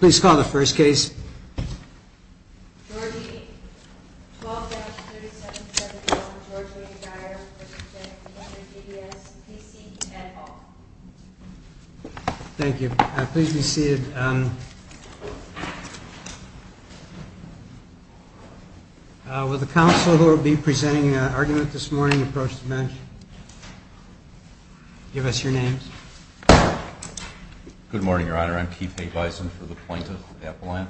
Please call the first case. George E. Geyer v. Taugner Thank you. Please be seated. Will the counsel who will be presenting the argument this morning approach the bench? Give us your names. Good morning, Your Honor. I'm Keith A. Bison for the plaintiff, the appellant.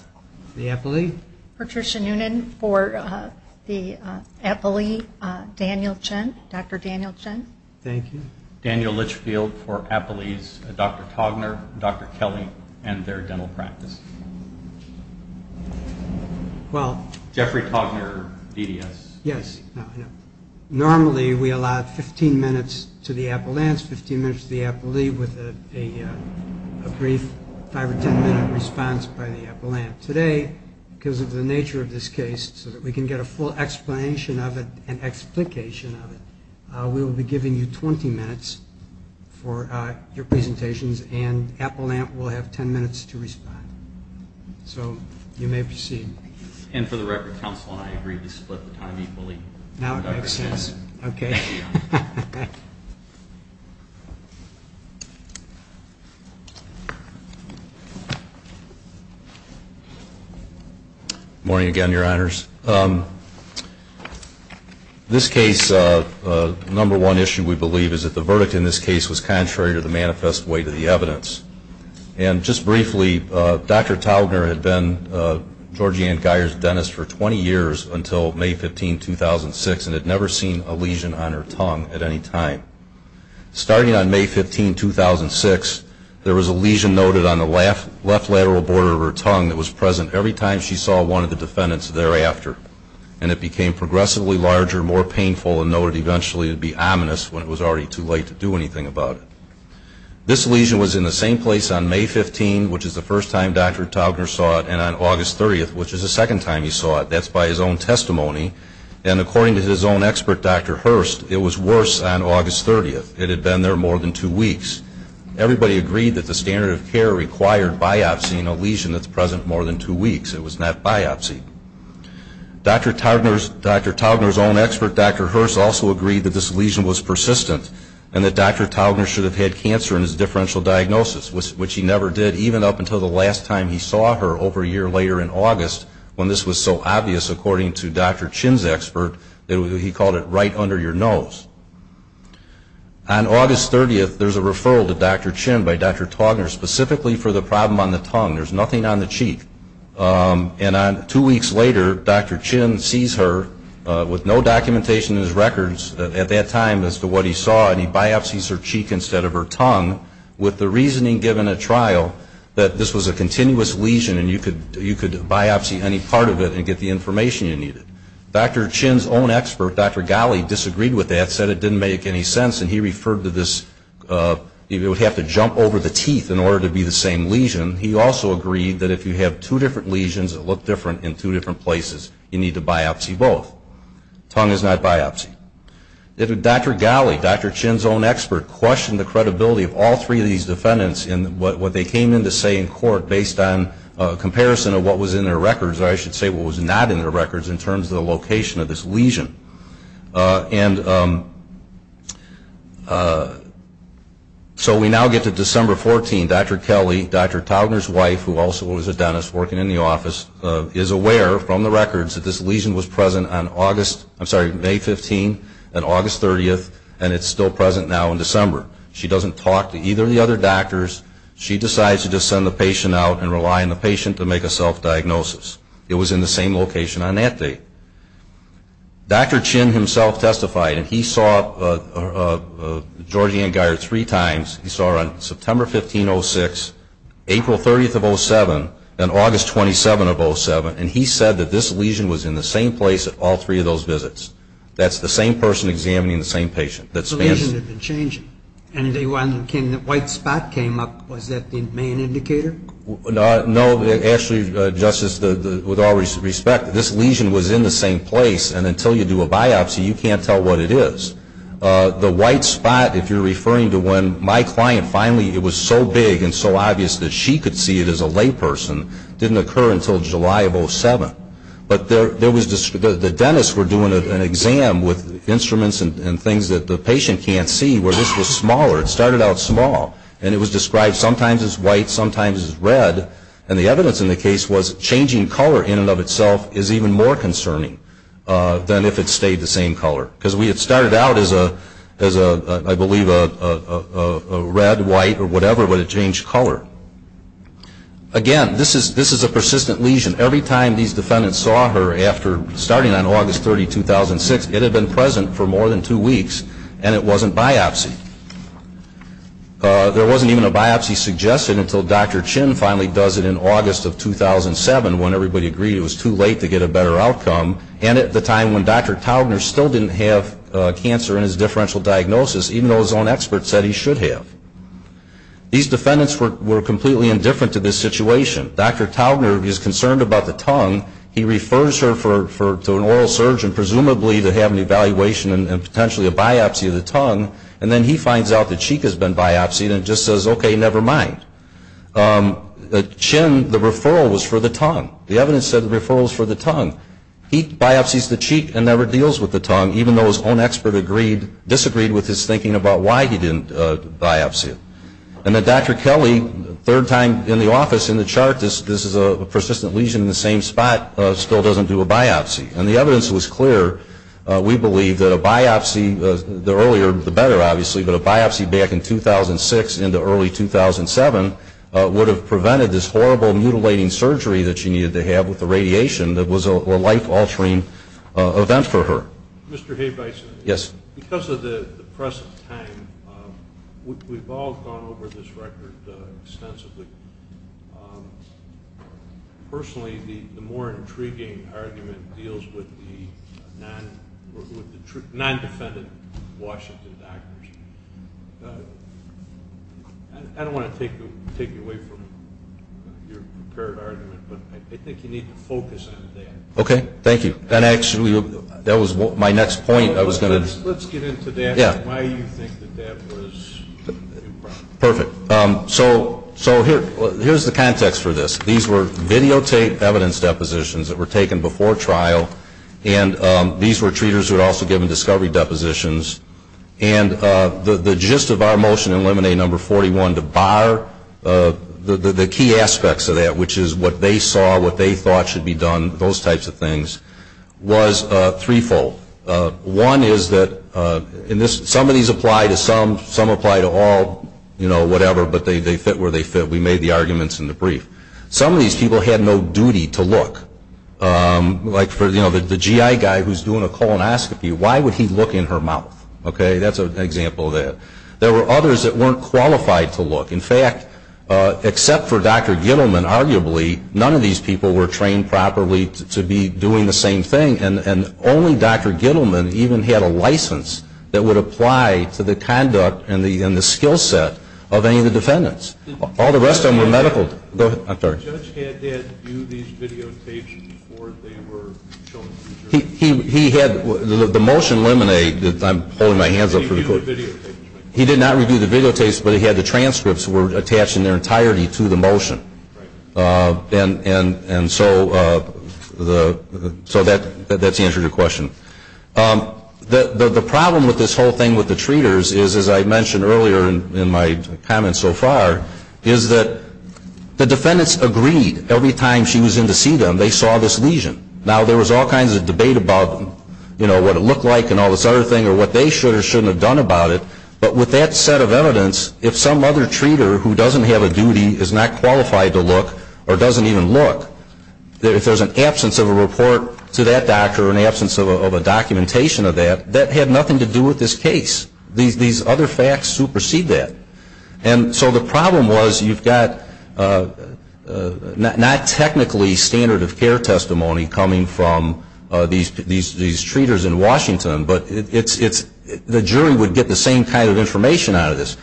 The appellee. Patricia Noonan for the appellee, Daniel Chen, Dr. Daniel Chen. Thank you. Daniel Litchfield for appellees, Dr. Taugner, Dr. Kelly, and their dental practice. Jeffrey Taugner, DDS. Yes. Normally we allow 15 minutes to the appellants, 15 minutes to the appellee, with a brief 5 or 10-minute response by the appellant. Today, because of the nature of this case, so that we can get a full explanation of it and explication of it, we will be giving you 20 minutes for your presentations, and appellant will have 10 minutes to respond. So you may proceed. And for the record, counsel and I agreed to split the time equally. Now it makes sense. Okay. Morning again, Your Honors. This case, number one issue, we believe, is that the verdict in this case was contrary to the manifest weight of the evidence. And just briefly, Dr. Taugner had been Georgie Ann Geier's dentist for 20 years until May 15, 2006, and had never seen a lesion on her tongue at any time. Starting on May 15, 2006, there was a lesion noted on the left lateral border of her tongue that was present every time she saw one of the defendants thereafter. And it became progressively larger, more painful, and noted eventually to be ominous when it was already too late to do anything about it. This lesion was in the same place on May 15, which is the first time Dr. Taugner saw it, and on August 30, which is the second time he saw it. That's by his own testimony. And according to his own expert, Dr. Hurst, it was worse on August 30. It had been there more than two weeks. Everybody agreed that the standard of care required biopsy in a lesion that's present more than two weeks. It was not biopsy. Dr. Taugner's own expert, Dr. Hurst, also agreed that this lesion was persistent and that Dr. Taugner should have had cancer in his differential diagnosis, which he never did, even up until the last time he saw her over a year later in August, when this was so obvious, according to Dr. Chin's expert, that he called it right under your nose. On August 30, there's a referral to Dr. Chin by Dr. Taugner specifically for the problem on the tongue. There's nothing on the cheek. And two weeks later, Dr. Chin sees her with no documentation in his records at that time as to what he saw, and he biopsies her cheek instead of her tongue with the reasoning, given at trial, that this was a continuous lesion and you could biopsy any part of it and get the information you needed. Dr. Chin's own expert, Dr. Ghali, disagreed with that, said it didn't make any sense, and he referred to this, you would have to jump over the teeth in order to be the same lesion. He also agreed that if you have two different lesions that look different in two different places, you need to biopsy both. Tongue is not biopsy. Dr. Ghali, Dr. Chin's own expert, questioned the credibility of all three of these defendants in what they came in to say in court based on comparison of what was in their records, or I should say what was not in their records in terms of the location of this lesion. And so we now get to December 14. Dr. Kelly, Dr. Taugner's wife, who also was a dentist working in the office, is aware from the records that this lesion was present on August, I'm sorry, May 15 and August 30, and it's still present now in December. She doesn't talk to either of the other doctors. She decides to just send the patient out and rely on the patient to make a self-diagnosis. It was in the same location on that date. Dr. Chin himself testified, and he saw Georgi Ann Geier three times. He saw her on September 15, 06, April 30 of 07, and August 27 of 07, and he said that this lesion was in the same place at all three of those visits. That's the same person examining the same patient. The lesion had been changing. And when the white spot came up, was that the main indicator? No, actually, Justice, with all respect, this lesion was in the same place, and until you do a biopsy, you can't tell what it is. The white spot, if you're referring to when my client finally, it was so big and so obvious that she could see it as a layperson, didn't occur until July of 07. But the dentists were doing an exam with instruments and things that the patient can't see where this was smaller. It started out small, and it was described sometimes as white, sometimes as red, and the evidence in the case was changing color in and of itself is even more concerning than if it stayed the same color. Because we had started out as, I believe, a red, white, or whatever, but it changed color. Again, this is a persistent lesion. Every time these defendants saw her after starting on August 30, 2006, it had been present for more than two weeks, and it wasn't biopsy. There wasn't even a biopsy suggested until Dr. Chin finally does it in August of 2007 when everybody agreed it was too late to get a better outcome, and at the time when Dr. Taubner still didn't have cancer in his differential diagnosis, even though his own experts said he should have. These defendants were completely indifferent to this situation. Dr. Taubner is concerned about the tongue. He refers her to an oral surgeon, presumably to have an evaluation and potentially a biopsy of the tongue, and then he finds out the cheek has been biopsied and just says, okay, never mind. Chin, the referral was for the tongue. The evidence said the referral was for the tongue. He biopsies the cheek and never deals with the tongue, even though his own expert disagreed with his thinking about why he didn't biopsy it. And then Dr. Kelly, third time in the office, in the chart, this is a persistent lesion in the same spot, still doesn't do a biopsy. And the evidence was clear. We believe that a biopsy, the earlier the better, obviously, but a biopsy back in 2006 into early 2007 would have prevented this horrible mutilating surgery that she needed to have with the radiation that was a life-altering event for her. Mr. Habeisen. Yes. Because of the press of time, we've all gone over this record extensively. Personally, the more intriguing argument deals with the non-defendant Washington actors. I don't want to take you away from your prepared argument, but I think you need to focus on that. Okay. Thank you. And actually, that was my next point. Let's get into that and why you think that that was improper. Perfect. So here's the context for this. These were videotaped evidence depositions that were taken before trial, and these were treaters who had also given discovery depositions. And the gist of our motion in Lemonade No. 41 to bar the key aspects of that, which is what they saw, what they thought should be done, those types of things, was threefold. One is that some of these apply to some, some apply to all, you know, whatever, but they fit where they fit. We made the arguments in the brief. Some of these people had no duty to look. Like for, you know, the GI guy who's doing a colonoscopy, why would he look in her mouth? Okay. That's an example of that. There were others that weren't qualified to look. In fact, except for Dr. Gittleman, arguably, none of these people were trained properly to be doing the same thing, and only Dr. Gittleman even had a license that would apply to the conduct and the skill set of any of the defendants. All the rest of them were medical. Go ahead. I'm sorry. The judge had had you do these videotapes before they were shown to the jury. He had, the motion in Lemonade that I'm holding my hands up for the court. He did not review the videotapes, but he had the transcripts were attached in their entirety to the motion. And so that's the answer to your question. The problem with this whole thing with the treaters is, as I mentioned earlier in my comments so far, is that the defendants agreed every time she was in to see them, they saw this lesion. Now, there was all kinds of debate about, you know, what it looked like and all this other thing or what they should or shouldn't have done about it. But with that set of evidence, if some other treater who doesn't have a duty is not qualified to look or doesn't even look, if there's an absence of a report to that doctor or an absence of a documentation of that, that had nothing to do with this case. These other facts supersede that. And so the problem was you've got not technically standard of care testimony coming from these treaters in Washington, but the jury would get the same kind of information out of this.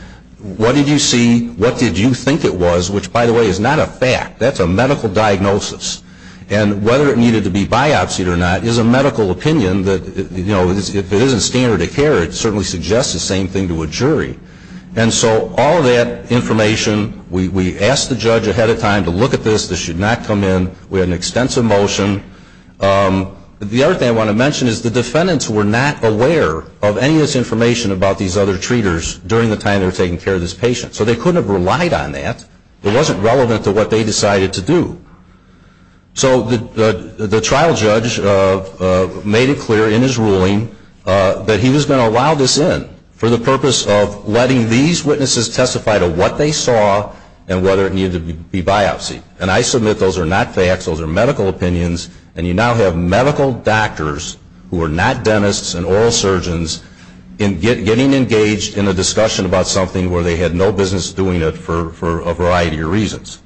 What did you see? What did you think it was? Which, by the way, is not a fact. That's a medical diagnosis. And whether it needed to be biopsied or not is a medical opinion that, you know, if it isn't standard of care, it certainly suggests the same thing to a jury. And so all of that information, we asked the judge ahead of time to look at this. This should not come in. We had an extensive motion. The other thing I want to mention is the defendants were not aware of any of this information about these other treaters during the time they were taking care of this patient. So they couldn't have relied on that. It wasn't relevant to what they decided to do. So the trial judge made it clear in his ruling that he was going to allow this in for the purpose of letting these witnesses testify to what they saw and whether it needed to be biopsied. And I submit those are not facts. Those are medical opinions. And you now have medical doctors who are not dentists and oral surgeons getting engaged in a discussion about something where they had no business doing it for a variety of reasons.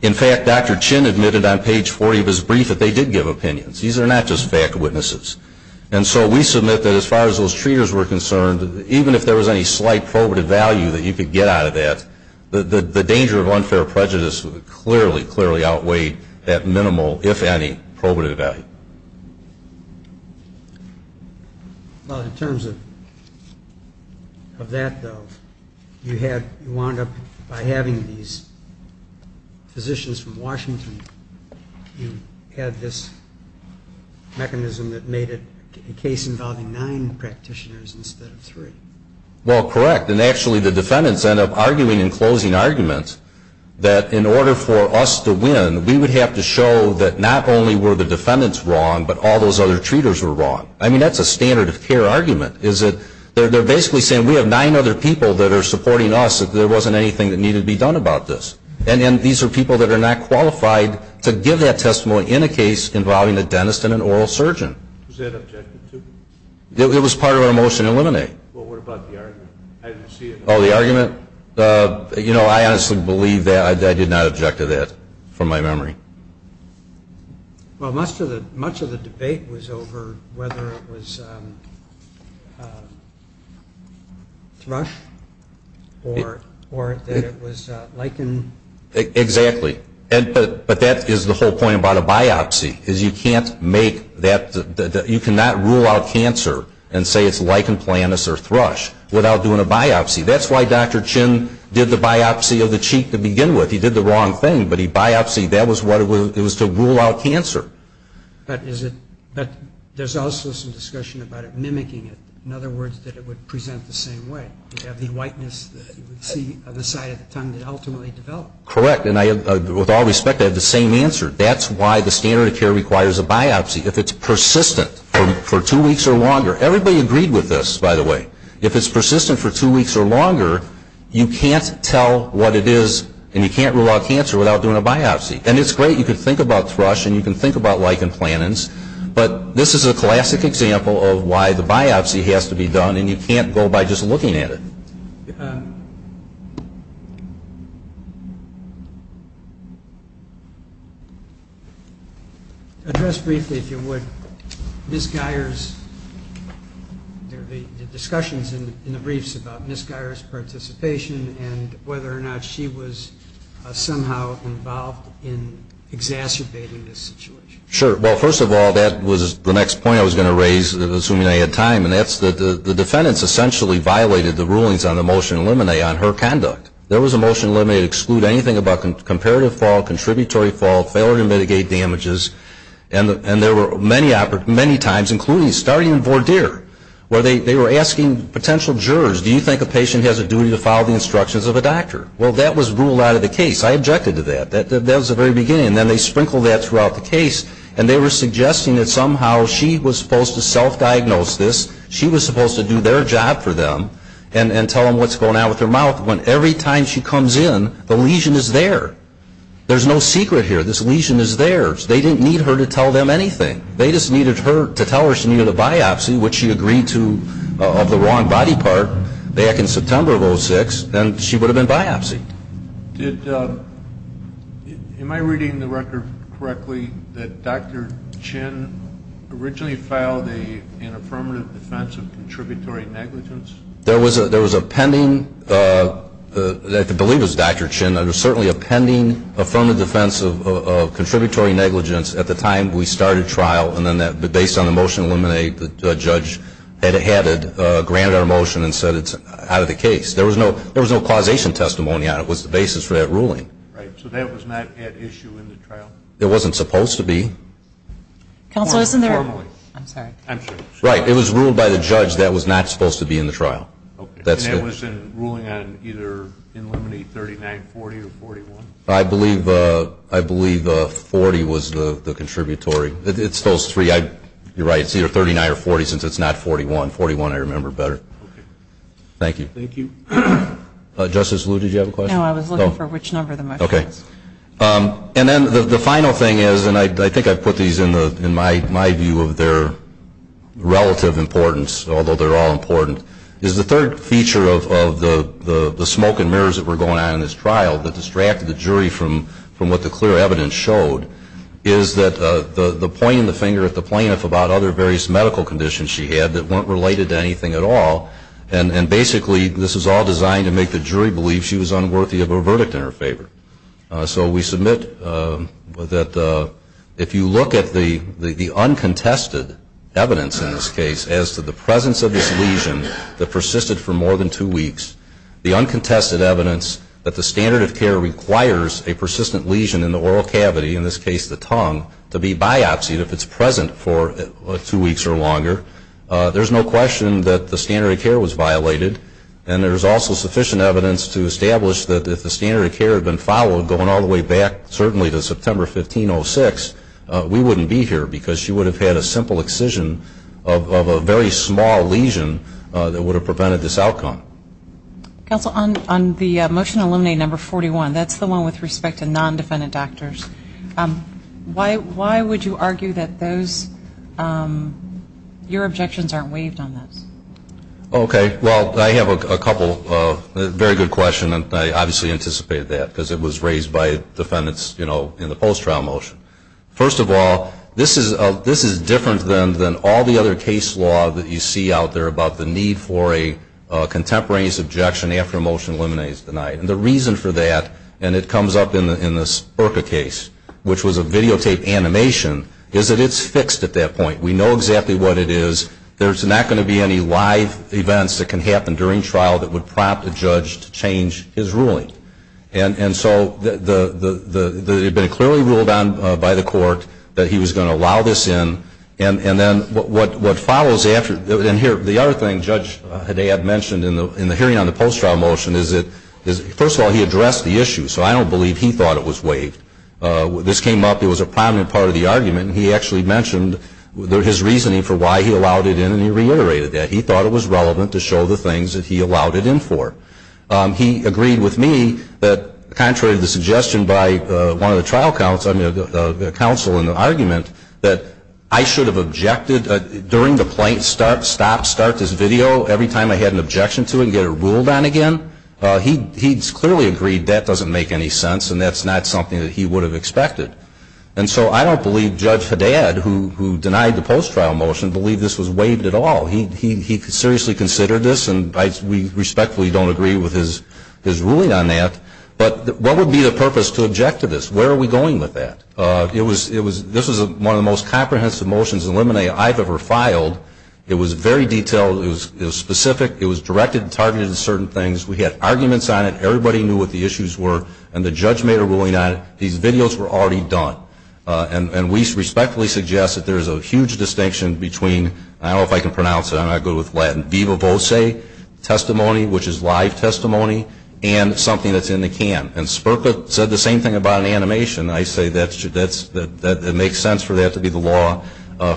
In fact, Dr. Chin admitted on page 40 of his brief that they did give opinions. These are not just fact witnesses. And so we submit that as far as those treaters were concerned, even if there was any slight probative value that you could get out of that, the danger of unfair prejudice clearly, clearly outweighed that minimal, if any, probative value. Well, in terms of that, though, you wound up by having these physicians from Washington, you had this mechanism that made it a case involving nine practitioners instead of three. Well, correct. And actually the defendants end up arguing in closing arguments that in order for us to win, we would have to show that not only were the defendants wrong, but all those other treaters were wrong. I mean, that's a standard of care argument is that they're basically saying we have nine other people that are supporting us, that there wasn't anything that needed to be done about this. And these are people that are not qualified to give that testimony in a case involving a dentist and an oral surgeon. Was that objected to? It was part of our motion to eliminate. Well, what about the argument? Oh, the argument? You know, I honestly believe that I did not object to that from my memory. Well, much of the debate was over whether it was thrush or that it was lichen. Exactly. But that is the whole point about a biopsy is you can't make that, you cannot rule out cancer and say it's lichen planus or thrush without doing a biopsy. That's why Dr. Chin did the biopsy of the cheek to begin with. He did the wrong thing, but he biopsied. That was what it was to rule out cancer. But there's also some discussion about it mimicking it. In other words, that it would present the same way. You'd have the whiteness that you would see on the side of the tongue that ultimately developed. Correct. And with all respect, I have the same answer. That's why the standard of care requires a biopsy. If it's persistent for two weeks or longer. Everybody agreed with this, by the way. If it's persistent for two weeks or longer, you can't tell what it is and you can't rule out cancer without doing a biopsy. And it's great, you can think about thrush and you can think about lichen planus, but this is a classic example of why the biopsy has to be done and you can't go by just looking at it. Address briefly, if you would, Ms. Geyer's, the discussions in the briefs about Ms. Geyer's participation and whether or not she was somehow involved in exacerbating this situation. Sure. Well, first of all, that was the next point I was going to raise, assuming I had time. And that's the defendants essentially violated the rulings on the motion to eliminate on her conduct. There was a motion to eliminate and exclude anything about comparative fault, contributory fault, failure to mitigate damages. And there were many times, including starting in voir dire, where they were asking potential jurors, do you think a patient has a duty to follow the instructions of a doctor? Well, that was ruled out of the case. I objected to that. And then they sprinkled that throughout the case. And they were suggesting that somehow she was supposed to self-diagnose this. She was supposed to do their job for them and tell them what's going on with her mouth, when every time she comes in, the lesion is there. There's no secret here. This lesion is theirs. They didn't need her to tell them anything. They just needed her to tell her she needed a biopsy, which she agreed to of the wrong body part back in September of 06, and she would have been biopsied. Am I reading the record correctly that Dr. Chin originally filed an affirmative defense of contributory negligence? There was a pending, I believe it was Dr. Chin, there was certainly a pending affirmative defense of contributory negligence at the time we started trial, and then based on the motion to eliminate, the judge had it added, granted our motion, and said it's out of the case. There was no causation testimony on it. It was the basis for that ruling. Right. So that was not at issue in the trial? It wasn't supposed to be. Counsel, isn't there – I'm sorry. I'm sorry. Right. It was ruled by the judge that was not supposed to be in the trial. Okay. And that was in ruling on either eliminating 3940 or 41? I believe 40 was the contributory. It's those three. You're right. It's either 39 or 40 since it's not 41. 41 I remember better. Okay. Thank you. Thank you. Justice Liu, did you have a question? No, I was looking for which number the motion was. Okay. And then the final thing is, and I think I put these in my view of their relative importance, although they're all important, is the third feature of the smoke and mirrors that were going on in this trial that distracted the jury from what the clear evidence showed is that the pointing the finger at the plaintiff about other various medical conditions she had that weren't related to anything at all, and basically this was all designed to make the jury believe she was unworthy of a verdict in her favor. So we submit that if you look at the uncontested evidence in this case as to the presence of this lesion that persisted for more than two weeks, the uncontested evidence that the standard of care requires a persistent lesion in the oral cavity, in this case the tongue, to be biopsied if it's present for two weeks or longer, there's no question that the standard of care was violated, and there's also sufficient evidence to establish that if the standard of care had been followed going all the way back, certainly to September 15, 06, we wouldn't be here because she would have had a simple excision of a very small lesion that would have prevented this outcome. Counsel, on the motion to eliminate number 41, that's the one with respect to non-defendant doctors, why would you argue that those, your objections aren't waived on this? Okay. Well, I have a couple, a very good question, and I obviously anticipated that because it was raised by defendants, you know, in the post-trial motion. First of all, this is different than all the other case law that you see out there about the need for a contemporary objection after a motion to eliminate is denied. And the reason for that, and it comes up in the Spurka case, which was a videotaped animation, is that it's fixed at that point. We know exactly what it is. There's not going to be any live events that can happen during trial that would prompt a judge to change his ruling. And so it had been clearly ruled on by the court that he was going to allow this in, and then what follows after, and here, the other thing Judge Haddad mentioned in the hearing on the post-trial motion is that, first of all, he addressed the issue, so I don't believe he thought it was waived. This came up, it was a prominent part of the argument, and he actually mentioned his reasoning for why he allowed it in, and he reiterated that. He thought it was relevant to show the things that he allowed it in for. He agreed with me that, contrary to the suggestion by one of the trial counsel, I mean the counsel in the argument, that I should have objected during the plaintiffs' start, stop, start, this video, every time I had an objection to it and get it ruled on again. He clearly agreed that doesn't make any sense, and that's not something that he would have expected. And so I don't believe Judge Haddad, who denied the post-trial motion, believed this was waived at all. He seriously considered this, and we respectfully don't agree with his ruling on that. But what would be the purpose to object to this? Where are we going with that? This was one of the most comprehensive motions in lemonade I've ever filed. It was very detailed. It was specific. It was directed and targeted at certain things. We had arguments on it. Everybody knew what the issues were, and the judge made a ruling on it. These videos were already done, and we respectfully suggest that there is a huge distinction between, I don't know if I can pronounce it, I'm not good with Latin, viva voce testimony, which is live testimony, and something that's in the can. And Sperka said the same thing about an animation. I say that it makes sense for that to be the law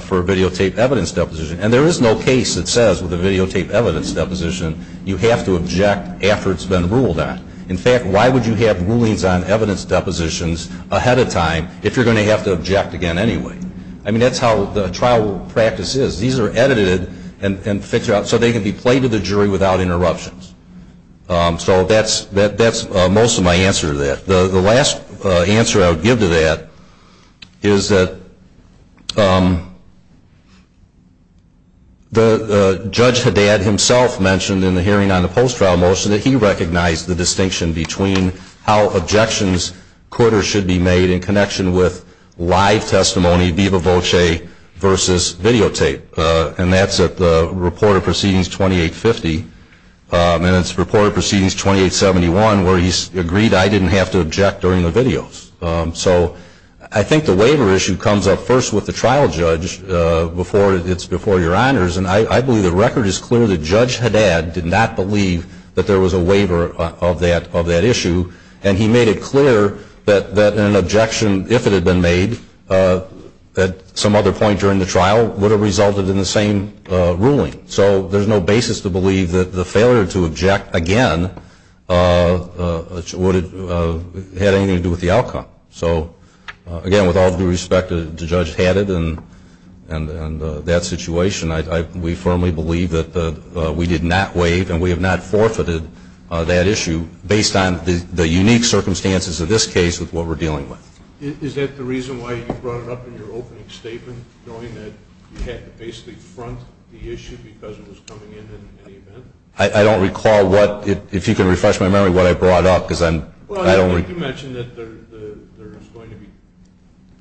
for a videotape evidence deposition. And there is no case that says with a videotape evidence deposition you have to object after it's been ruled on. In fact, why would you have rulings on evidence depositions ahead of time if you're going to have to object again anyway? I mean, that's how the trial practice is. These are edited and fixed out so they can be played to the jury without interruptions. So that's most of my answer to that. The last answer I would give to that is that Judge Haddad himself mentioned in the hearing on the post-trial motion that he recognized the distinction between how objections should be made in connection with live testimony, viva voce, versus videotape. And that's at the report of proceedings 2850. And it's report of proceedings 2871 where he's agreed I didn't have to object during the videos. So I think the waiver issue comes up first with the trial judge before it's before your honors. And I believe the record is clear that Judge Haddad did not believe that there was a waiver of that issue. And he made it clear that an objection, if it had been made at some other point during the trial, would have resulted in the same ruling. So there's no basis to believe that the failure to object, again, would have had anything to do with the outcome. So, again, with all due respect to Judge Haddad and that situation, we firmly believe that we did not waive and we have not forfeited that issue based on the unique circumstances of this case with what we're dealing with. Is that the reason why you brought it up in your opening statement, knowing that you had to basically front the issue because it was coming in in any event? I don't recall what, if you can refresh my memory, what I brought up. Well, I think you mentioned that there is going to be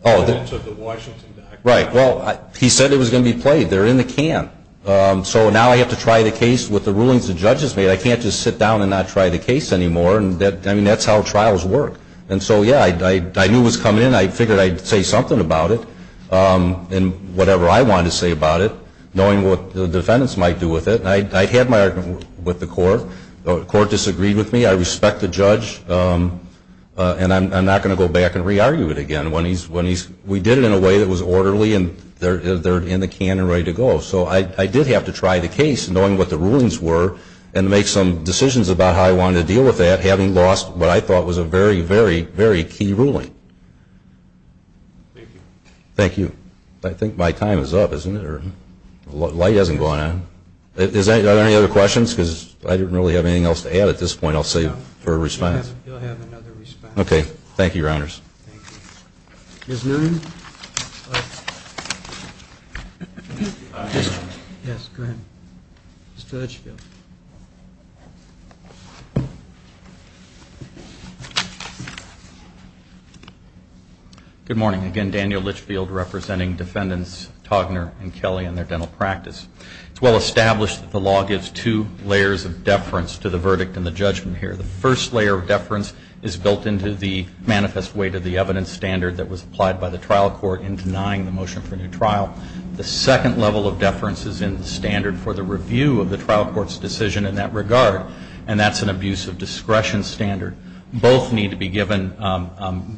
evidence of the Washington document. Right. Well, he said it was going to be played. They're in the can. So now I have to try the case with the rulings the judge has made. I can't just sit down and not try the case anymore. I mean, that's how trials work. And so, yeah, I knew it was coming in. I figured I'd say something about it and whatever I wanted to say about it, knowing what the defendants might do with it. I had my argument with the court. The court disagreed with me. I respect the judge, and I'm not going to go back and re-argue it again. We did it in a way that was orderly, and they're in the can and ready to go. So I did have to try the case, knowing what the rulings were, and make some decisions about how I wanted to deal with that, having lost what I thought was a very, very, very key ruling. Thank you. Thank you. I think my time is up, isn't it? The light hasn't gone on. Are there any other questions? Because I didn't really have anything else to add at this point. I'll save it for a response. You'll have another response. Okay. Thank you, Your Honors. Thank you. Ms. Norton? Yes, go ahead. Mr. Litchfield. Good morning. Again, Daniel Litchfield representing defendants Togner and Kelly and their dental practice. It's well established that the law gives two layers of deference to the verdict and the judgment here. The first layer of deference is built into the manifest weight of the evidence standard that was applied by the trial court in denying the motion for a new trial. The second level of deference is in the standard for the review of the trial court's decision in that regard, and that's an abuse of discretion standard. Both need to be given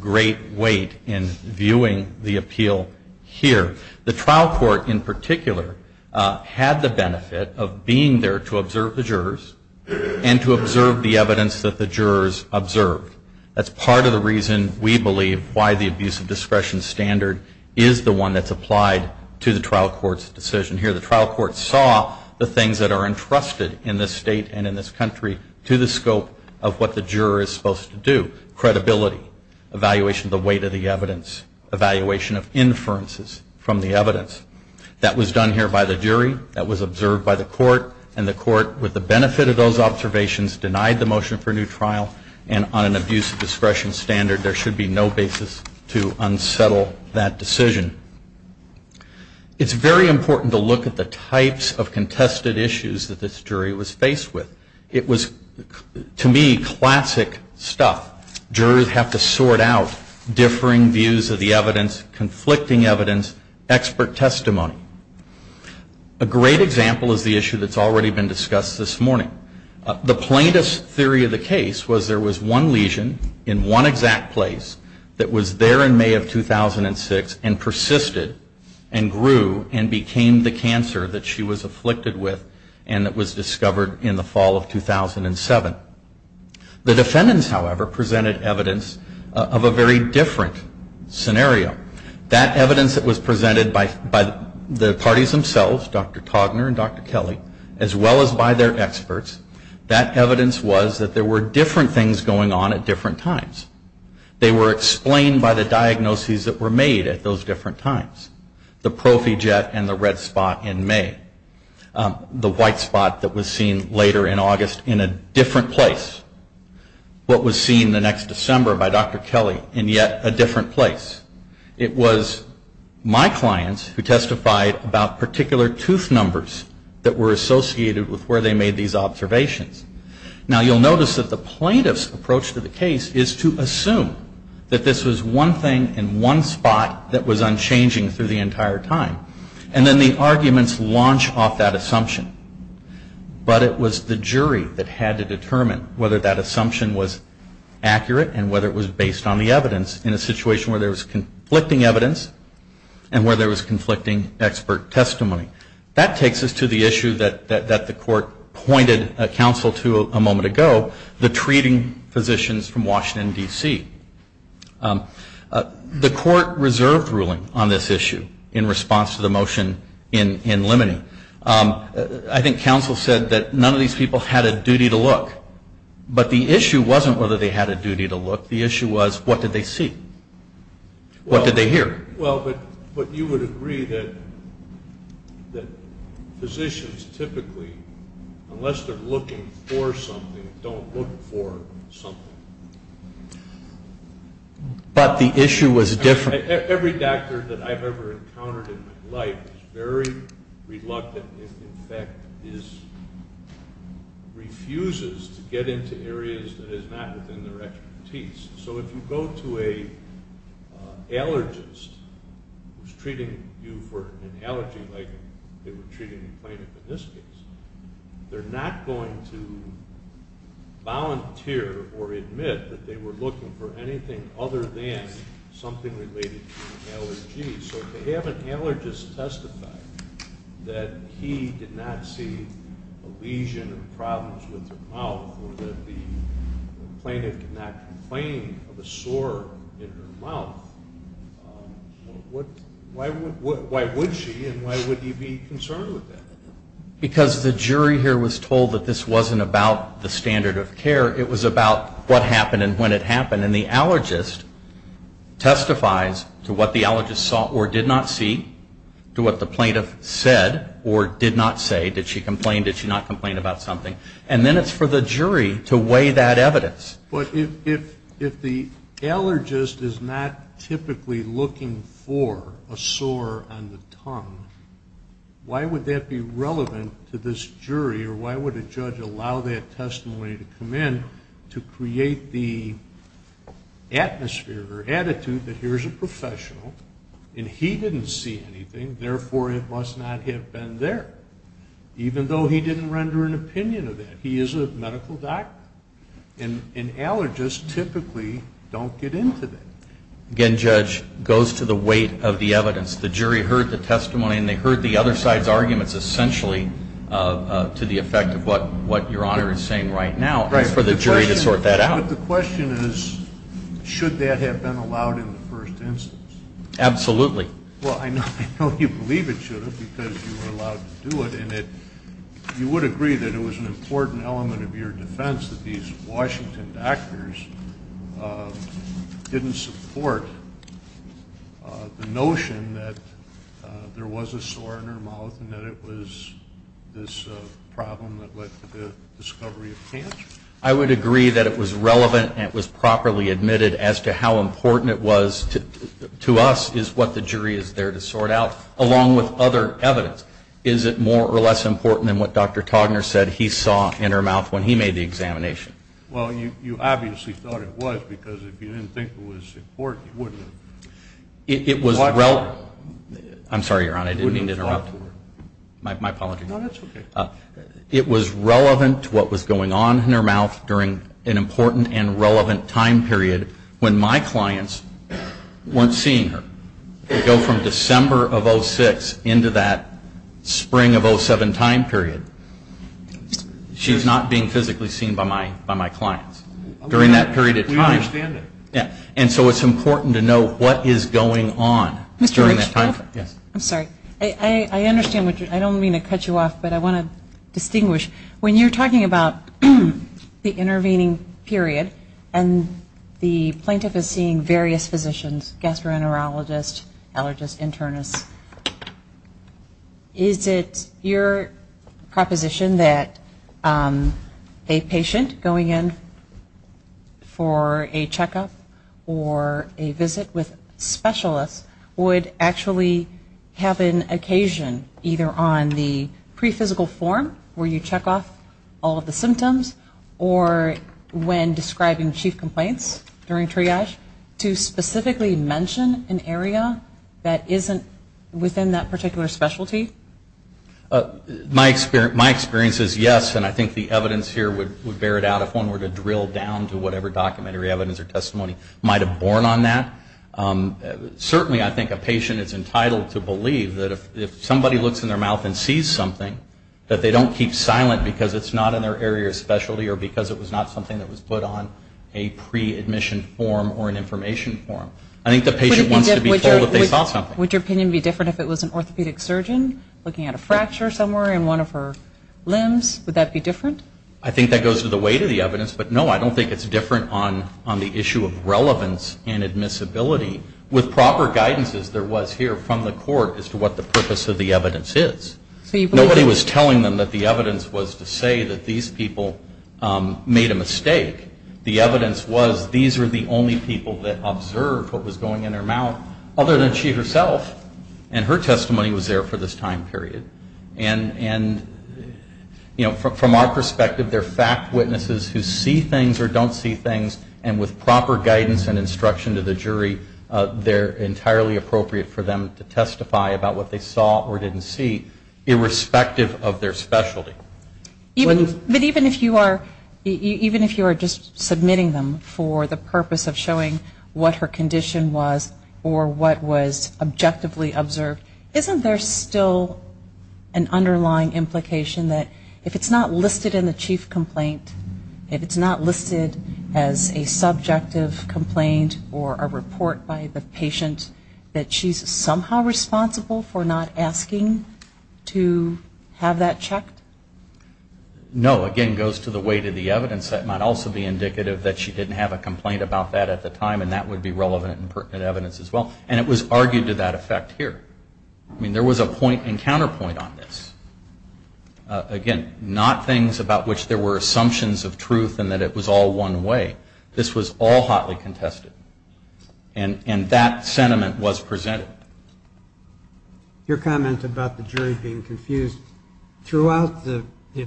great weight in viewing the appeal here. The trial court, in particular, had the benefit of being there to observe the jurors and to observe the evidence that the jurors observed. That's part of the reason we believe why the abuse of discretion standard is the one that's applied to the trial court's decision here. The trial court saw the things that are entrusted in this state and in this country to the scope of what the juror is supposed to do. Credibility, evaluation of the weight of the evidence, evaluation of inferences from the evidence. That was done here by the jury, that was observed by the court, and the court, with the benefit of those observations, denied the motion for a new trial. And on an abuse of discretion standard, there should be no basis to unsettle that decision. It's very important to look at the types of contested issues that this jury was faced with. It was, to me, classic stuff. Jurors have to sort out differing views of the evidence, conflicting evidence, expert testimony. A great example is the issue that's already been discussed this morning. The plaintiff's theory of the case was there was one lesion in one exact place that was there in May of 2006 and persisted and grew and became the cancer that she was afflicted with and that was discovered in the fall of 2007. The defendants, however, presented evidence of a very different scenario. That evidence that was presented by the parties themselves, Dr. Togner and Dr. Kelly, as well as by their experts, that evidence was that there were different things going on at different times. They were explained by the diagnoses that were made at those different times, the prophyget and the red spot in May, the white spot that was seen later in August in a different place, what was seen the next December by Dr. Kelly in yet a different place. It was my clients who testified about particular tooth numbers that were associated with where they made these observations. Now, you'll notice that the plaintiff's approach to the case is to assume that this was one thing in one spot that was unchanging through the entire time. And then the arguments launch off that assumption. But it was the jury that had to determine whether that assumption was accurate and whether it was based on the evidence in a situation where there was conflicting evidence and where there was conflicting expert testimony. That takes us to the issue that the court pointed counsel to a moment ago, the treating physicians from Washington, D.C. The court reserved ruling on this issue in response to the motion in limine. I think counsel said that none of these people had a duty to look. But the issue wasn't whether they had a duty to look. The issue was what did they see? What did they hear? Well, but you would agree that physicians typically, unless they're looking for something, don't look for something. But the issue was different. Every doctor that I've ever encountered in my life is very reluctant, in fact, refuses to get into areas that is not within their expertise. So if you go to an allergist who's treating you for an allergy, like they were treating plaintiff in this case, they're not going to volunteer or admit that they were looking for anything other than something related to an allergy. So if they have an allergist testify that he did not see a lesion or problems with her mouth or that the plaintiff did not complain of a sore in her mouth, why would she and why would he be concerned with that? Because the jury here was told that this wasn't about the standard of care. It was about what happened and when it happened. And then the allergist testifies to what the allergist saw or did not see, to what the plaintiff said or did not say. Did she complain? Did she not complain about something? And then it's for the jury to weigh that evidence. But if the allergist is not typically looking for a sore on the tongue, why would that be relevant to this jury or why would a judge allow that testimony to come in to create the atmosphere or attitude that here's a professional and he didn't see anything, therefore it must not have been there, even though he didn't render an opinion of that. He is a medical doctor. And allergists typically don't get into that. Again, Judge, it goes to the weight of the evidence. The jury heard the testimony and they heard the other side's arguments essentially to the effect of what Your Honor is saying right now. It's for the jury to sort that out. But the question is, should that have been allowed in the first instance? Absolutely. Well, I know you believe it should have because you were allowed to do it. And you would agree that it was an important element of your defense that these Washington doctors didn't support the notion that there was a sore in her mouth and that it was this problem that led to the discovery of cancer? I would agree that it was relevant and it was properly admitted as to how important it was to us, is what the jury is there to sort out, along with other evidence. Is it more or less important than what Dr. Togner said he saw in her mouth when he made the examination? Well, you obviously thought it was because if you didn't think it was important, you wouldn't have. It was relevant. I'm sorry, Your Honor, I didn't mean to interrupt. My apologies. No, that's okay. It was relevant to what was going on in her mouth during an important and relevant time period when my clients weren't seeing her. We go from December of 06 into that spring of 07 time period. She's not being physically seen by my clients during that period of time. We understand that. And so it's important to know what is going on during that time period. Mr. Richcliffe? Yes. I'm sorry. I understand what you're saying. I don't mean to cut you off, but I want to distinguish. When you're talking about the intervening period and the plaintiff is seeing various physicians, gastroenterologists, allergists, internists, is it your proposition that a patient going in for a checkup or a visit with specialists would actually have an occasion either on the pre-physical form where you check off all of the symptoms or when describing chief complaints during triage to specifically mention an area that isn't within that particular specialty? My experience is yes. And I think the evidence here would bear it out if one were to drill down to whatever documentary evidence or testimony might have borne on that. Certainly I think a patient is entitled to believe that if somebody looks in their mouth and sees something, that they don't keep silent because it's not in their area of specialty or because it was not something that was put on a pre-admission form or an information form. I think the patient wants to be told that they saw something. Would your opinion be different if it was an orthopedic surgeon looking at a fracture somewhere in one of her limbs? Would that be different? I think that goes to the weight of the evidence. But no, I don't think it's different on the issue of relevance and admissibility with proper guidance as there was here from the court as to what the purpose of the evidence is. Nobody was telling them that the evidence was to say that these people made a mistake. The evidence was these are the only people that observed what was going in their mouth other than she herself. And her testimony was there for this time period. And from our perspective, they're fact witnesses who see things or don't see things, they're entirely appropriate for them to testify about what they saw or didn't see irrespective of their specialty. But even if you are just submitting them for the purpose of showing what her condition was or what was objectively observed, isn't there still an underlying implication that if it's not listed in the chief complaint, if it's not listed as a subjective complaint or a report by the patient, that she's somehow responsible for not asking to have that checked? No. Again, it goes to the weight of the evidence. That might also be indicative that she didn't have a complaint about that at the time and that would be relevant and pertinent evidence as well. And it was argued to that effect here. I mean, there was a point and counterpoint on this. Again, not things about which there were assumptions of truth and that it was all one way. This was all hotly contested. And that sentiment was presented. Your comment about the jury being confused, throughout the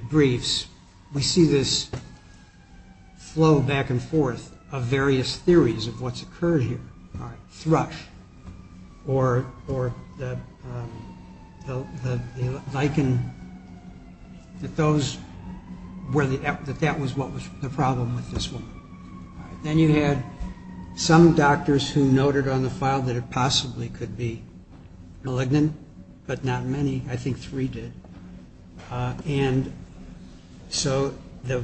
briefs, we see this flow back and forth of various theories of what's occurred here. Thrush or the lichen, that that was what was the problem with this woman. Then you had some doctors who noted on the file that it possibly could be malignant, but not many. I think three did. And so the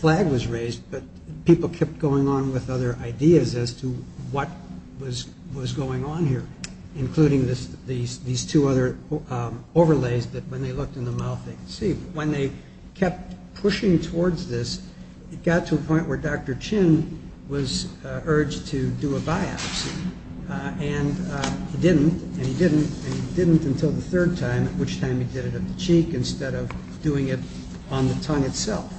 flag was raised, but people kept going on with other ideas as to what was going on here, including these two other overlays that when they looked in the mouth they could see. When they kept pushing towards this, it got to a point where Dr. Chin was urged to do a biopsy. And he didn't, and he didn't, and he didn't until the third time, at which time he did it at the cheek instead of doing it on the tongue itself.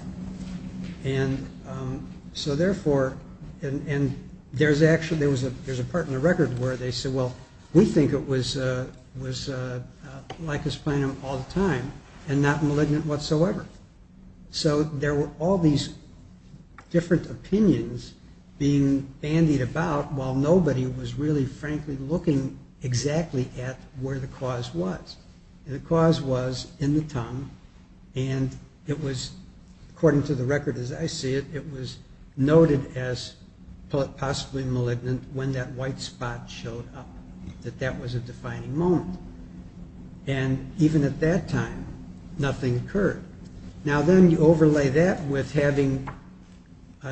And so therefore, and there's actually, there's a part in the record where they said, well, we think it was lichensplenum all the time and not malignant whatsoever. So there were all these different opinions being bandied about while nobody was really, frankly, looking exactly at where the cause was. And the cause was in the tongue, and it was, according to the record as I see it, it was noted as possibly malignant when that white spot showed up, that that was a defining moment. And even at that time, nothing occurred. Now then you overlay that with having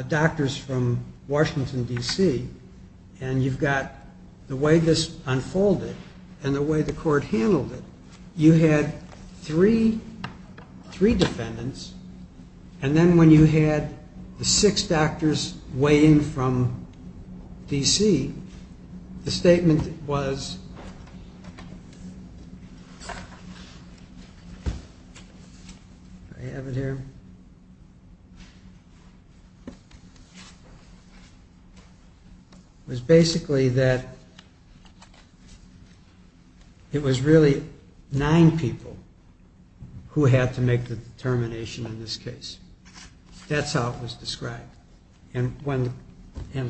doctors from Washington, D.C., and you've got the way this unfolded and the way the court handled it. You had three defendants, and then when you had the six doctors weighing from D.C., the statement was, do I have it here? It was basically that it was really nine people who had to make the determination in this case. That's how it was described. And the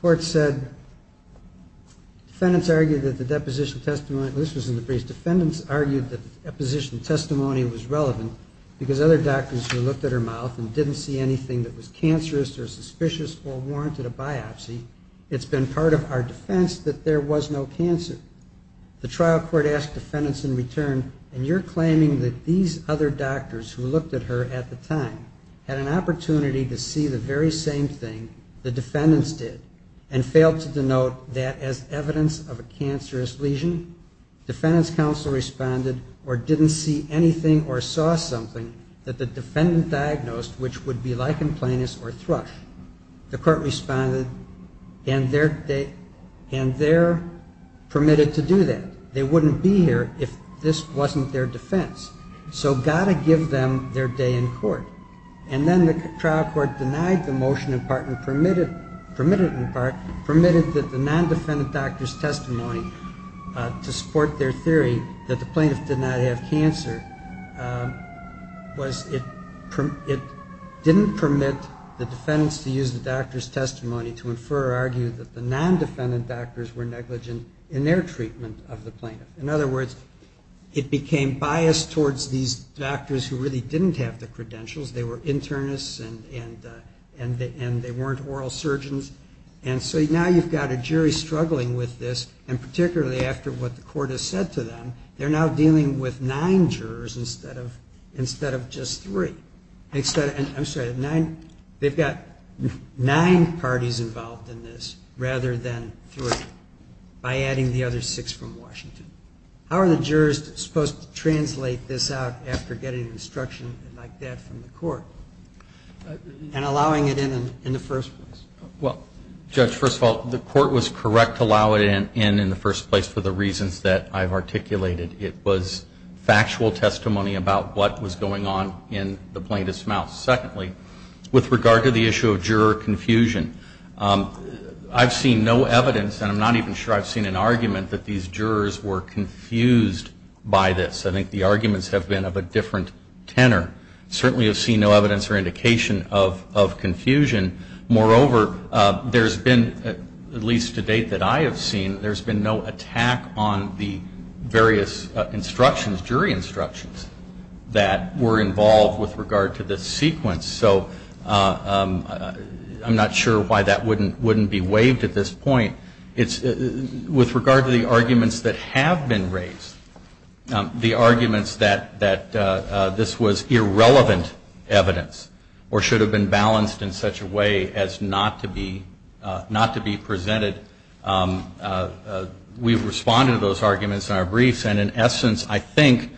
court said, defendants argued that the deposition testimony, this was in the briefs, it's been part of our defense that there was no cancer. The trial court asked defendants in return, and you're claiming that these other doctors who looked at her at the time had an opportunity to see the very same thing the defendants did, and failed to denote that as evidence of a cancerous lesion? Defendants counsel responded or didn't see anything or saw something that the defendant diagnosed which would be lichen planus or thrush. The court responded, and they're permitted to do that. They wouldn't be here if this wasn't their defense. And then the trial court denied the motion in part and permitted that the non-defendant doctor's testimony to support their theory that the plaintiff did not have cancer. It didn't permit the defendants to use the doctor's testimony to infer or argue that the non-defendant doctors were negligent in their treatment of the plaintiff. In other words, it became biased towards these doctors who really didn't have the credentials. They were internists, and they weren't oral surgeons. And so now you've got a jury struggling with this, and particularly after what the court has said to them, they're now dealing with nine jurors instead of just three. They've got nine parties involved in this rather than three by adding the other six from Washington. How are the jurors supposed to translate this out after getting instruction like that from the court and allowing it in in the first place? Well, Judge, first of all, the court was correct to allow it in in the first place for the reasons that I've articulated. It was factual testimony about what was going on in the plaintiff's mouth. Secondly, with regard to the issue of juror confusion, I've seen no evidence, and I'm not even sure I've seen an argument, that these jurors were confused by this. I think the arguments have been of a different tenor. Certainly have seen no evidence or indication of confusion. Moreover, there's been, at least to date that I have seen, there's been no attack on the various instructions, jury instructions, that were involved with regard to this sequence. So I'm not sure why that wouldn't be waived at this point. With regard to the arguments that have been raised, the arguments that this was irrelevant evidence or should have been balanced in such a way as not to be presented, we've responded to those arguments in our briefs, and in essence, I think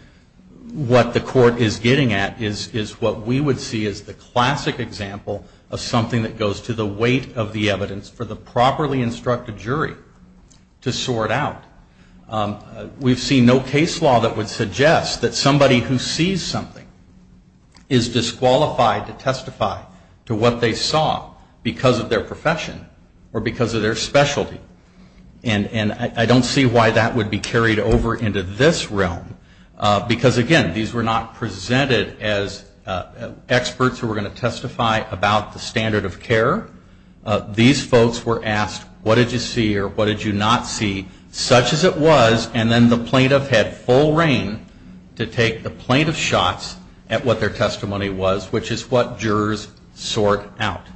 what the court is getting at is what we would see as the classic example of something that goes to the weight of the evidence for the properly instructed jury to sort out. We've seen no case law that would suggest that somebody who sees something is disqualified to testify to what they saw because of their profession or because of their specialty. And I don't see why that would be carried over into this realm. Because again, these were not presented as experts who were going to testify about the standard of care. These folks were asked, what did you see or what did you not see, such as it was, and then the plaintiff had full reign to take the plaintiff's shots at what their testimony was, which is what jurors sort out.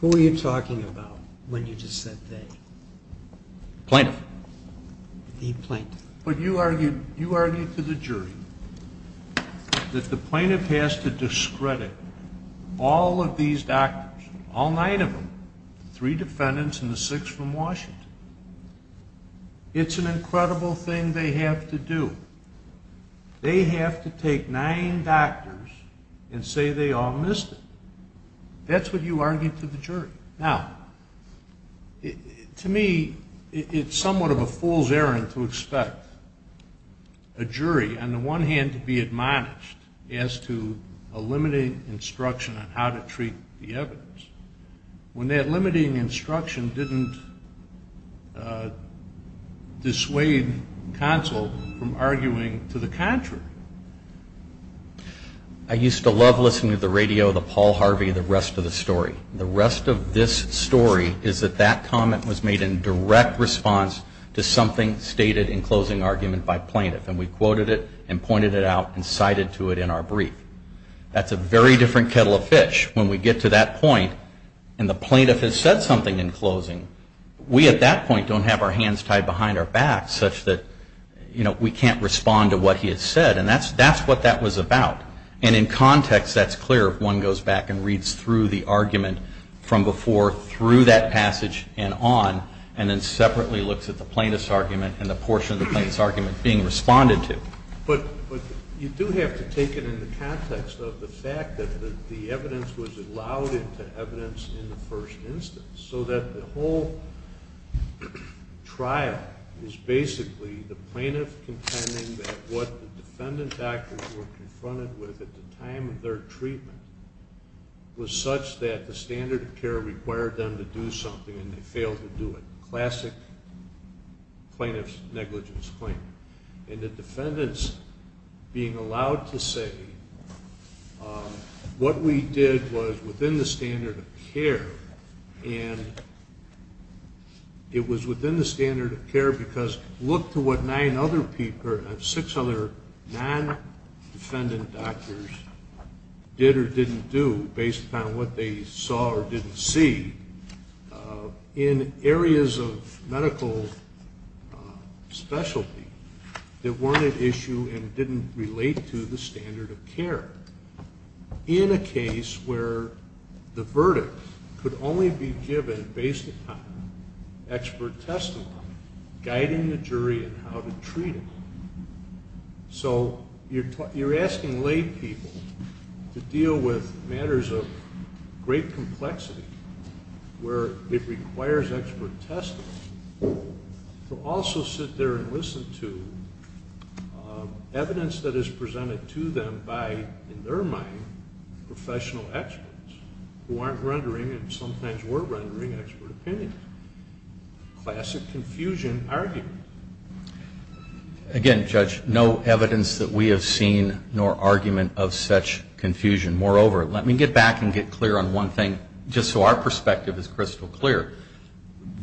Who were you talking about when you just said they? Plaintiff. The plaintiff. But you argued to the jury that the plaintiff has to discredit all of these doctors, all nine of them, three defendants and the six from Washington. It's an incredible thing they have to do. They have to take nine doctors and say they all missed it. That's what you argued to the jury. Now, to me, it's somewhat of a fool's errand to expect a jury, on the one hand, to be admonished as to a limiting instruction on how to treat the evidence, when that limiting instruction didn't dissuade counsel from arguing to the contrary. I used to love listening to the radio, the Paul Harvey, the rest of the story. The rest of this story is that that comment was made in direct response to something stated in closing argument by plaintiff, and we quoted it and pointed it out and cited to it in our brief. That's a very different kettle of fish. When we get to that point and the plaintiff has said something in closing, we at that point don't have our hands tied behind our back such that we can't respond to what he has said. And that's what that was about. And in context, that's clear if one goes back and reads through the argument from before, through that passage, and on, and then separately looks at the plaintiff's argument and the portion of the plaintiff's argument being responded to. But you do have to take it in the context of the fact that the evidence was allowed into evidence in the first instance, so that the whole trial is basically the plaintiff contending that what the defendant's client confronted with at the time of their treatment was such that the standard of care required them to do something and they failed to do it. Classic plaintiff's negligence claim. And the defendant's being allowed to say what we did was within the standard of care, and it was within the standard of care because look to what non-defendant doctors did or didn't do based upon what they saw or didn't see in areas of medical specialty that weren't at issue and didn't relate to the standard of care in a case where the verdict could only be given based upon expert testimony guiding the jury in how to treat it. So you're asking lay people to deal with matters of great complexity where it requires expert testimony to also sit there and listen to evidence that is presented to them by, in their mind, professional experts who aren't rendering and sometimes were rendering expert opinion. Classic confusion argument. Again, Judge, no evidence that we have seen nor argument of such confusion. Moreover, let me get back and get clear on one thing, just so our perspective is crystal clear.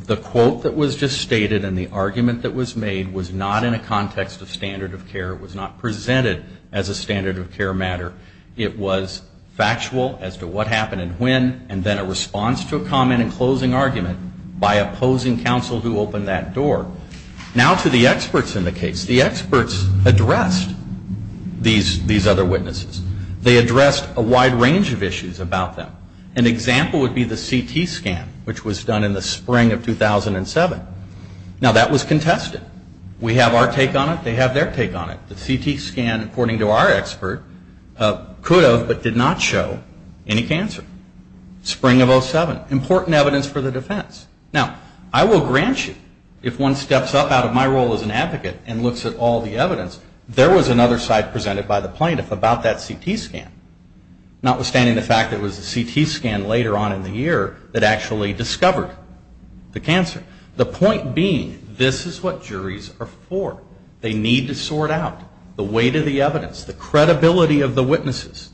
The quote that was just stated and the argument that was made was not in a context of standard of care. It was not presented as a standard of care matter. It was factual as to what happened and when, and then a response to a comment and closing argument by opposing counsel who opened that door. Now to the experts in the case. The experts addressed these other witnesses. They addressed a wide range of issues about them. An example would be the CT scan, which was done in the spring of 2007. The CT scan, according to our expert, could have but did not show any cancer. Spring of 07. Important evidence for the defense. Now, I will grant you, if one steps up out of my role as an advocate and looks at all the evidence, there was another side presented by the plaintiff about that CT scan, notwithstanding the fact that it was the CT scan later on in the year that actually discovered the cancer. The point being, this is what juries are for. They need to sort out the weight of the evidence, the credibility of the witnesses.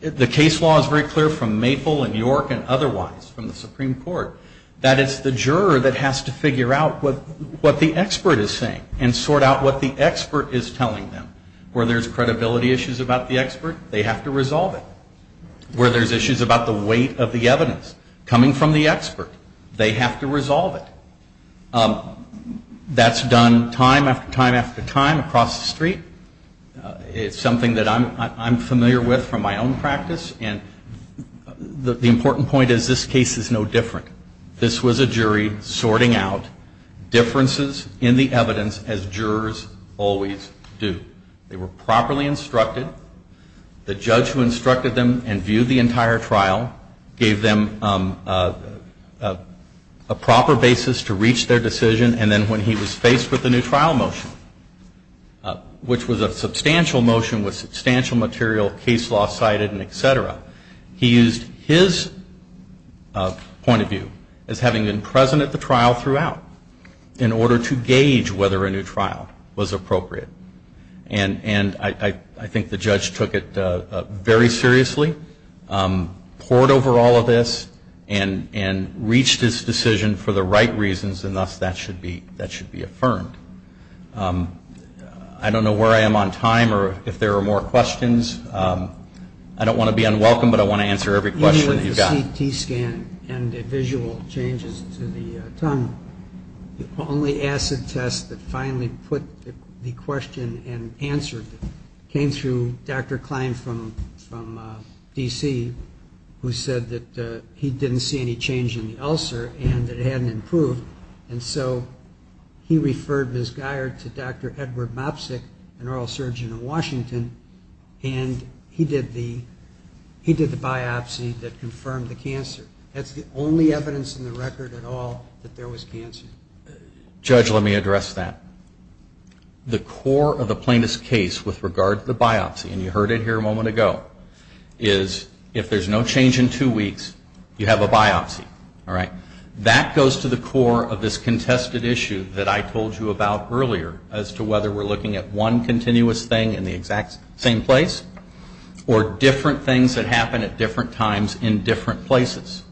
The case law is very clear from Maple and York and otherwise from the Supreme Court. That it's the juror that has to figure out what the expert is saying and sort out what the expert is telling them. Where there's credibility issues about the expert, they have to resolve it. Where there's issues about the weight of the evidence, coming from the expert, they have to resolve it. That's done time after time after time across the street. It's something that I'm familiar with from my own practice. And the important point is this case is no different. This was a jury sorting out differences in the evidence, as jurors always do. They were asked to review the entire trial, gave them a proper basis to reach their decision, and then when he was faced with the new trial motion, which was a substantial motion with substantial material, case law cited and etc., he used his point of view as having been present at the trial throughout in order to gauge whether a new trial was appropriate. And I think the judge took it very seriously, poured over all of this, and reached his decision for the right reasons, and thus that should be affirmed. I don't know where I am on time or if there are more questions. I don't want to be unwelcome, but I want to answer every question you've got. The CT scan and the visual changes to the tongue, the only acid test that finally put the question and answered it came through Dr. Klein from D.C., who said that he didn't see any change in the ulcer and it hadn't improved, and so he referred Ms. Guyer to Dr. Edward Mopsick, an oral surgeon in Washington, and he did the biopsy that confirmed the cancer. That's the only evidence in the record at all that there was cancer. Judge, let me address that. The core of the plaintiff's case with regard to the biopsy, and you heard it here a moment ago, is if there's no change in two weeks, you have a biopsy, all right? That goes to the core of this contested issue that I told you about earlier as to whether we're looking at one continuous thing in the exact same place or different things that happen at different times in different places.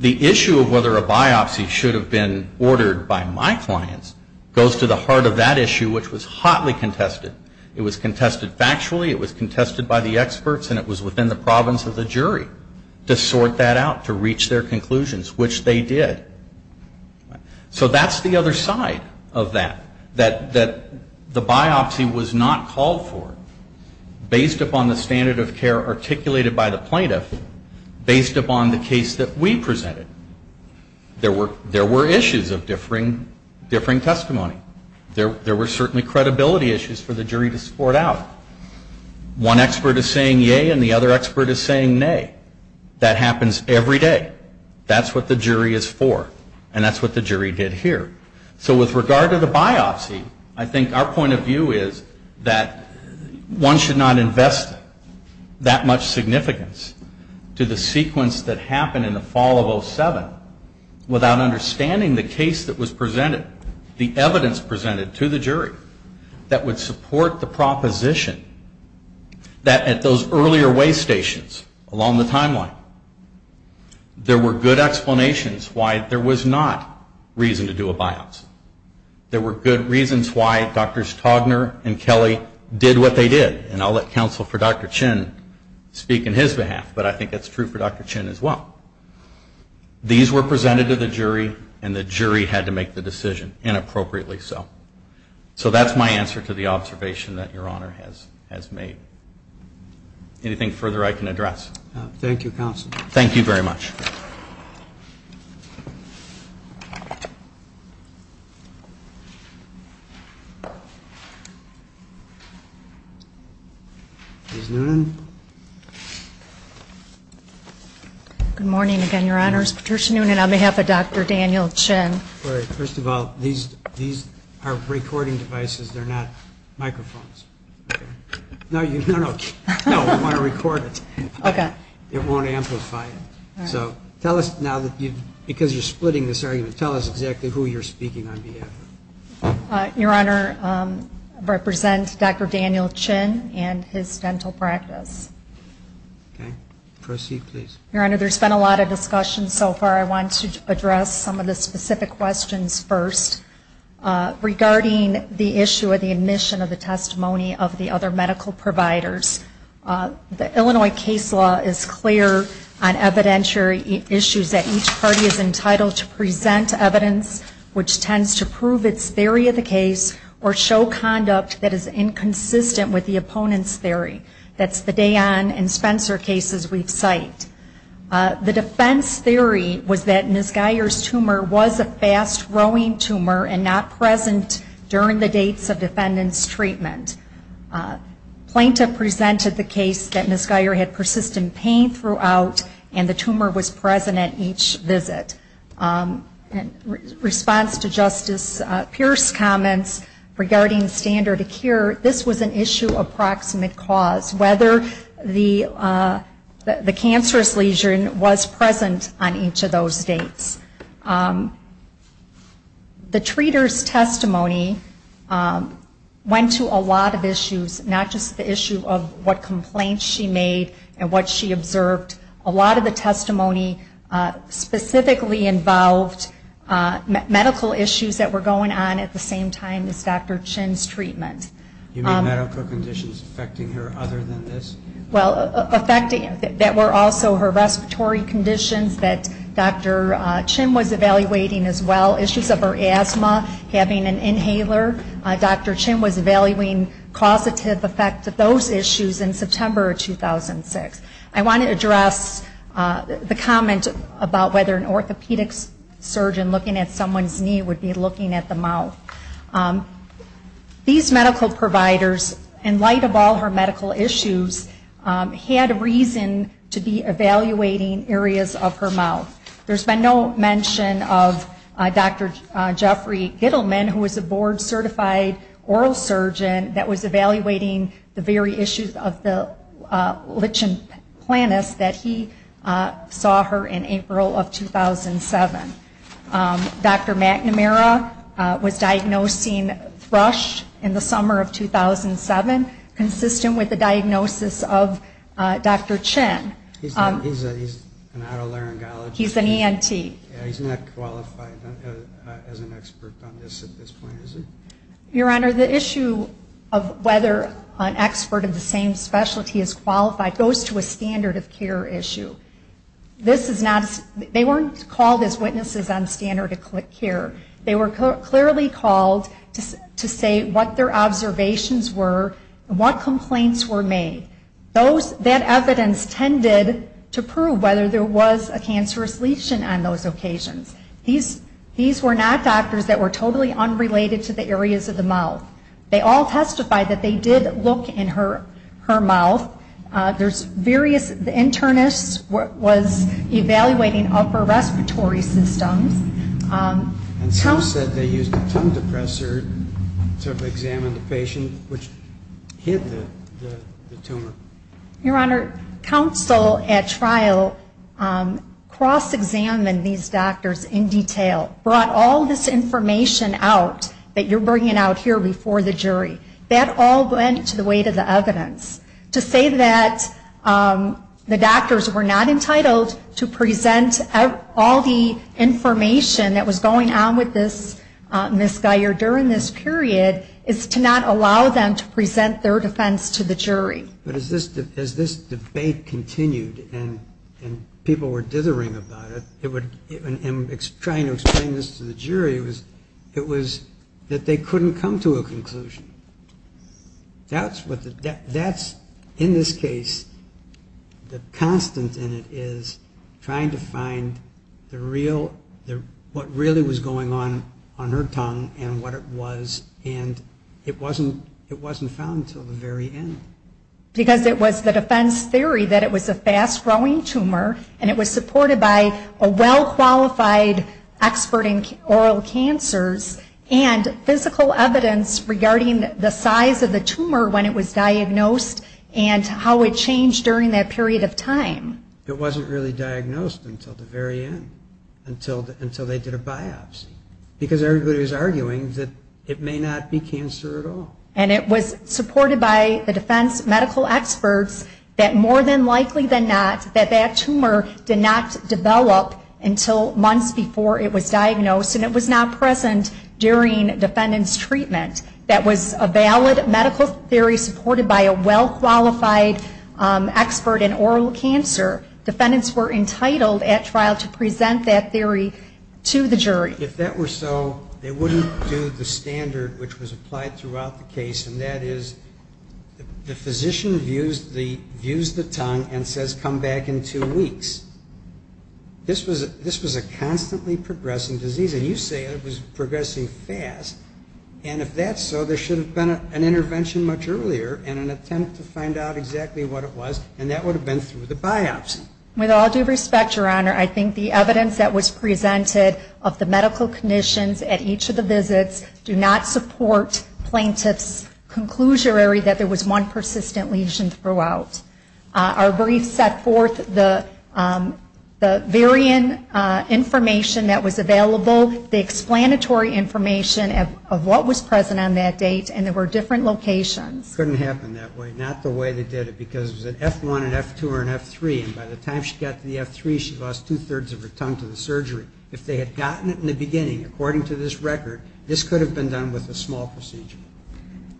The issue of whether a biopsy should have been ordered by my clients goes to the heart of that issue, which was hotly contested. It was contested factually, it was contested by the experts, and it was within the province of the jury to sort that out, to reach their conclusions, which they did. So that's the other side of that, that the biopsy was not called for based upon the standard of care articulated by the plaintiff, based upon the case that we presented. There were issues of differing testimony. There were certainly credibility issues for the jury to sport out. One expert is saying yea, and the other expert is saying nay. That happens every day. That's what the jury is for, and that's what the jury did here. So with regard to the biopsy, I think our point of view is that one should not invest that much significance to the sequence that happened in the fall of 07 without understanding the case that was presented, the evidence presented to the jury that would support the proposition that at those earlier way stations along the timeline, there were good explanations why there was not reason to do a biopsy. There were good reasons why Drs. Togner and Kelly did what they did, and I'll let counsel for Dr. Chin speak on his behalf, but I think that's true for Dr. Chin as well. These were presented to the jury, and the jury had to make the decision, and appropriately so. So that's my answer to the observation that Your Honor has made. Anything further I can address? Thank you, counsel. Thank you very much. Ms. Noonan. Good morning again, Your Honors. Patricia Noonan on behalf of Dr. Daniel Chin. First of all, these are recording devices. They're not microphones. No, you don't want to record it. It won't amplify it. Because you're splitting this argument, tell us exactly who you're speaking on behalf of. Your Honor, I represent Dr. Daniel Chin and his dental practice. Proceed, please. Your Honor, there's been a lot of discussion so far. I want to address some of the specific questions first. Regarding the issue of the admission of the testimony of the other medical providers, the Illinois case law is clear on evidentiary issues that each party is entitled to present evidence, which tends to prove its theory of the case or show conduct that is inconsistent with the opponent's theory. That's the Dayan and Spencer cases we've cited. The defense theory was that Ms. Geyer's tumor was a fast-growing tumor and not present during the dates of defendant's treatment. Plaintiff presented the case that Ms. Geyer had persistent pain throughout and the tumor was present at each visit. In response to Justice Pierce's comments regarding standard of care, this was an issue of proximate cause. Whether the cancerous lesion was present on each of those dates. The treater's testimony went to a lot of issues, not just the issue of what complaints she made and what she observed. A lot of the testimony specifically involved medical issues that were going on at the same time as Dr. Chin's treatment. You mean medical conditions affecting her other than this? Well, that were also her respiratory conditions that Dr. Chin was evaluating as well, issues of her asthma, having an inhaler. Dr. Chin was evaluating causative effects of those issues in September of 2006. I want to address the comment about whether an orthopedic surgeon looking at someone's knee would be looking at the mouth. These medical providers, in light of all her medical issues, had reason to be evaluating areas of her mouth. There's been no mention of Dr. Jeffrey Gittleman, who was a board certified oral surgeon that was evaluating the very issues of the lichen planus that he saw her in April of 2007. Dr. McNamara was diagnosed thrush in the summer of 2007, consistent with the diagnosis of Dr. Chin. He's an otolaryngologist. He's an ENT. He's not qualified as an expert on this at this point, is he? Your Honor, the issue of whether an expert of the same specialty is qualified goes to a standard of care issue. They weren't called as witnesses on standard of care. They were clearly called to say what their observations were and what complaints were made. That evidence tended to prove whether there was a cancerous lichen on those occasions. These were not doctors that were totally unrelated to the areas of the mouth. They all testified that they did look in her mouth. The internist was evaluating upper respiratory systems. And some said they used a tumor depressor to examine the patient, which hid the tumor. Your Honor, counsel at trial cross-examined these doctors in detail. Brought all this information out that you're bringing out here before the jury. That all went to the weight of the evidence. To say that the doctors were not entitled to present all the information that was going on with this Ms. Geyer during this period is to not allow them to present their defense to the jury. As this debate continued and people were dithering about it, and trying to explain this to the jury, it was that they couldn't come to a conclusion. That's in this case the constant in it is trying to find the real, what really was going on on her tongue and what it was. And it wasn't found until the very end. Because it was the defense theory that it was a fast-growing tumor, and it was supported by a well-qualified expert in oral cancers, and physical evidence regarding the size of the tumor when it was diagnosed, it wasn't really diagnosed until the very end, until they did a biopsy. Because everybody was arguing that it may not be cancer at all. And it was supported by the defense medical experts that more than likely than not, that that tumor did not develop until months before it was diagnosed, and it was not present during defendant's treatment. That was a valid medical theory supported by a well-qualified expert in oral cancer. Defendants were entitled at trial to present that theory to the jury. If that were so, they wouldn't do the standard which was applied throughout the case, and that is the physician views the tongue and says come back in two weeks. This was a constantly progressing disease. And you say it was progressing fast. And if that's so, there should have been an intervention much earlier in an attempt to find out exactly what it was, and that would have been through the biopsy. With all due respect, Your Honor, I think the evidence that was presented of the medical conditions at each of the visits do not support plaintiff's conclusionary that there was one persistent lesion throughout. Our brief set forth the information that was available, the explanatory information of what was present on that date, and there were different locations. It couldn't happen that way, not the way they did it, because it was an F1, an F2, or an F3, and by the time she got to the F3, she lost two-thirds of her tongue to the surgery. If they had gotten it in the beginning, according to this record, this could have been done with a small procedure.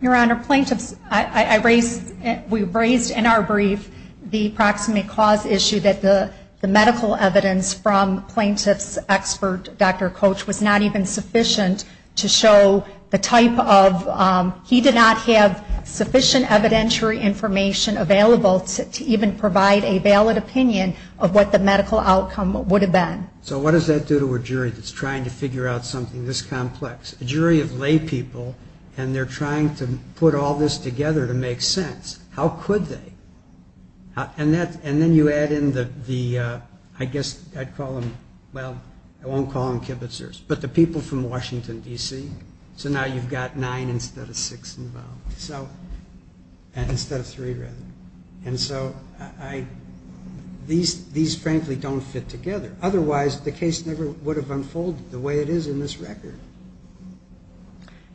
Your Honor, plaintiffs, I raised, we raised in our brief the proximate cause issue that the medical evidence from plaintiff's expert, Dr. Coach, was not even sufficient to show the type of, he did not have sufficient evidentiary information available to even provide a valid opinion of what the medical outcome would have been. So what does that do to a jury that's trying to figure out something this complex? A jury of laypeople, and they're trying to put all this together to make sense. How could they? And then you add in the, I guess I'd call them, well, I won't call them kibitzers, but the people from Washington, D.C. So now you've got nine instead of six involved. Instead of three, rather. And so I, these frankly don't fit together. Otherwise, the case never would have unfolded the way it is in this record.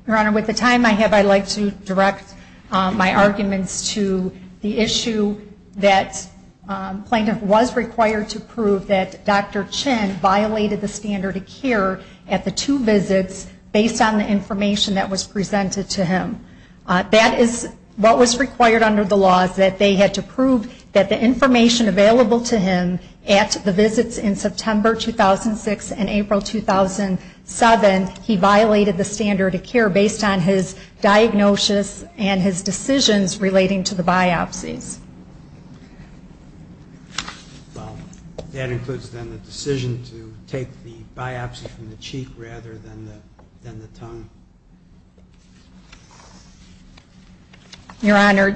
Your Honor, with the time I have, I'd like to direct my arguments to the issue that plaintiff was required to prove that Dr. Chin violated the standard of care at the two visits based on the information that was presented to him. That is what was required under the law, is that they had to prove that the information available to him at the visits in September 2006 and April 2007, he violated the standard of care based on his diagnosis and his decisions relating to the biopsies. That includes then the decision to take the biopsy from the cheek rather than the tongue. Your Honor,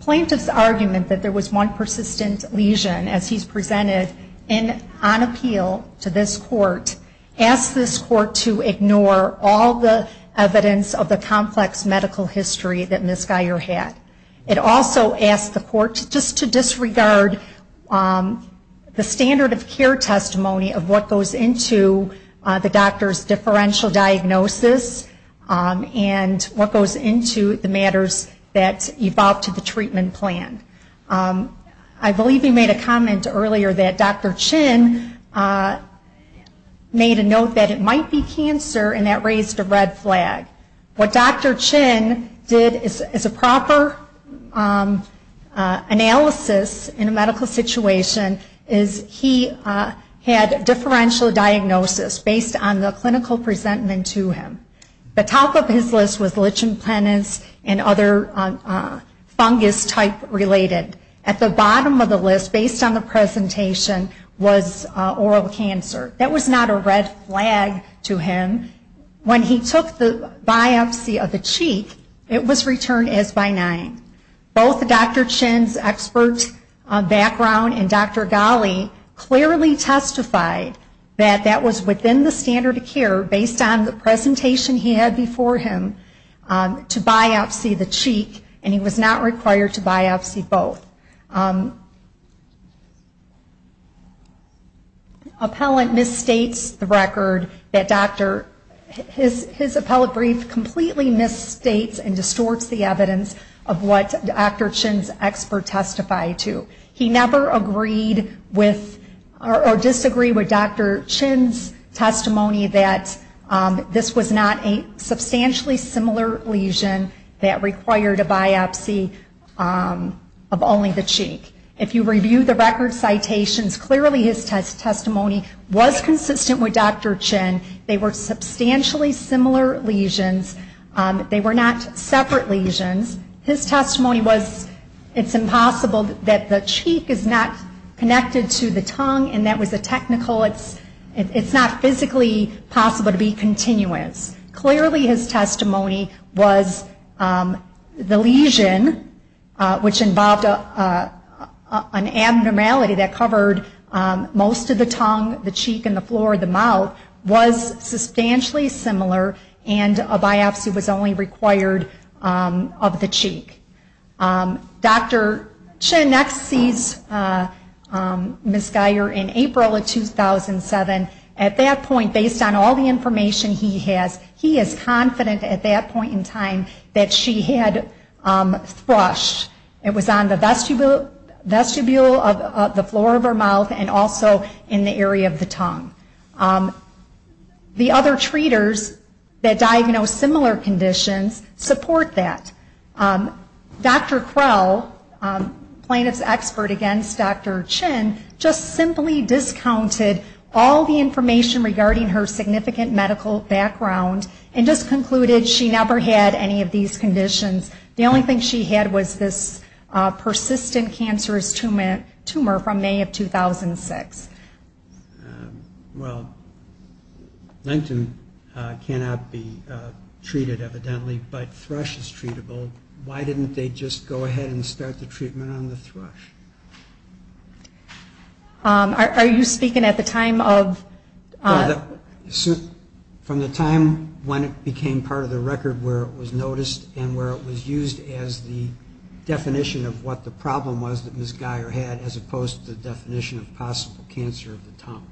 plaintiff's argument that there was one persistent lesion as he's presented on appeal to this court asks this court to ignore all the evidence of the complex medical history that Ms. Geyer had. It also asks the court just to disregard the standard of care testimony of what goes into the doctor's differential diagnosis and what goes into the matters that evolve to the treatment plan. I believe you made a comment earlier that Dr. Chin made a note that it might be cancer and that raised a red flag. What Dr. Chin did as a proper analysis in a medical situation is he had the patient get differential diagnosis based on the clinical presentment to him. The top of his list was lichen planus and other fungus type related. At the bottom of the list based on the presentation was oral cancer. That was not a red flag to him. When he took the biopsy of the cheek, it was returned as benign. Both Dr. Chin's expert background and Dr. Ghali clearly testified that that was within the standard of care based on the presentation he had before him to biopsy the cheek and he was not required to biopsy both. Appellant misstates the record. His appellate brief completely misstates and distorts the evidence of what Dr. Chin's expert testified to. He never agreed with or disagreed with Dr. Chin's testimony that this was not a substantially similar lesion that required a biopsy of only the cheek. If you review the record citations, clearly his testimony was consistent with Dr. Chin. They were substantially similar lesions. They were not separate lesions. His testimony was it's impossible that the cheek is not connected to the tongue and that was a technical, it's not physically possible to be continuous. Clearly his testimony was the lesion which involved an abnormality that covered most of the tongue, the cheek and the floor of the mouth was substantially similar and a biopsy was only required of the cheek. Dr. Chin next sees Ms. Guyer in April of 2007. At that point, based on all the information he has, he is confident at that point in time that she had thrush. It was on the vestibule of the floor of her mouth and also in the area of the tongue. The other treaters that diagnosed similar conditions support that. Dr. Krell, plaintiff's expert against Dr. Chin, just simply discounted all the information regarding her significant medical background and just concluded she never had any of these conditions. The only thing she had was this persistent cancerous tumor from May of 2006. Well, lengthen cannot be treated evidently, but thrush is treatable. Why didn't they just go ahead and start the treatment on the thrush? Are you speaking at the time of... From the time when it became part of the record where it was noticed and where it was used as the definition of what the problem was that Ms. Guyer had as opposed to the definition of possible cancer of the tongue.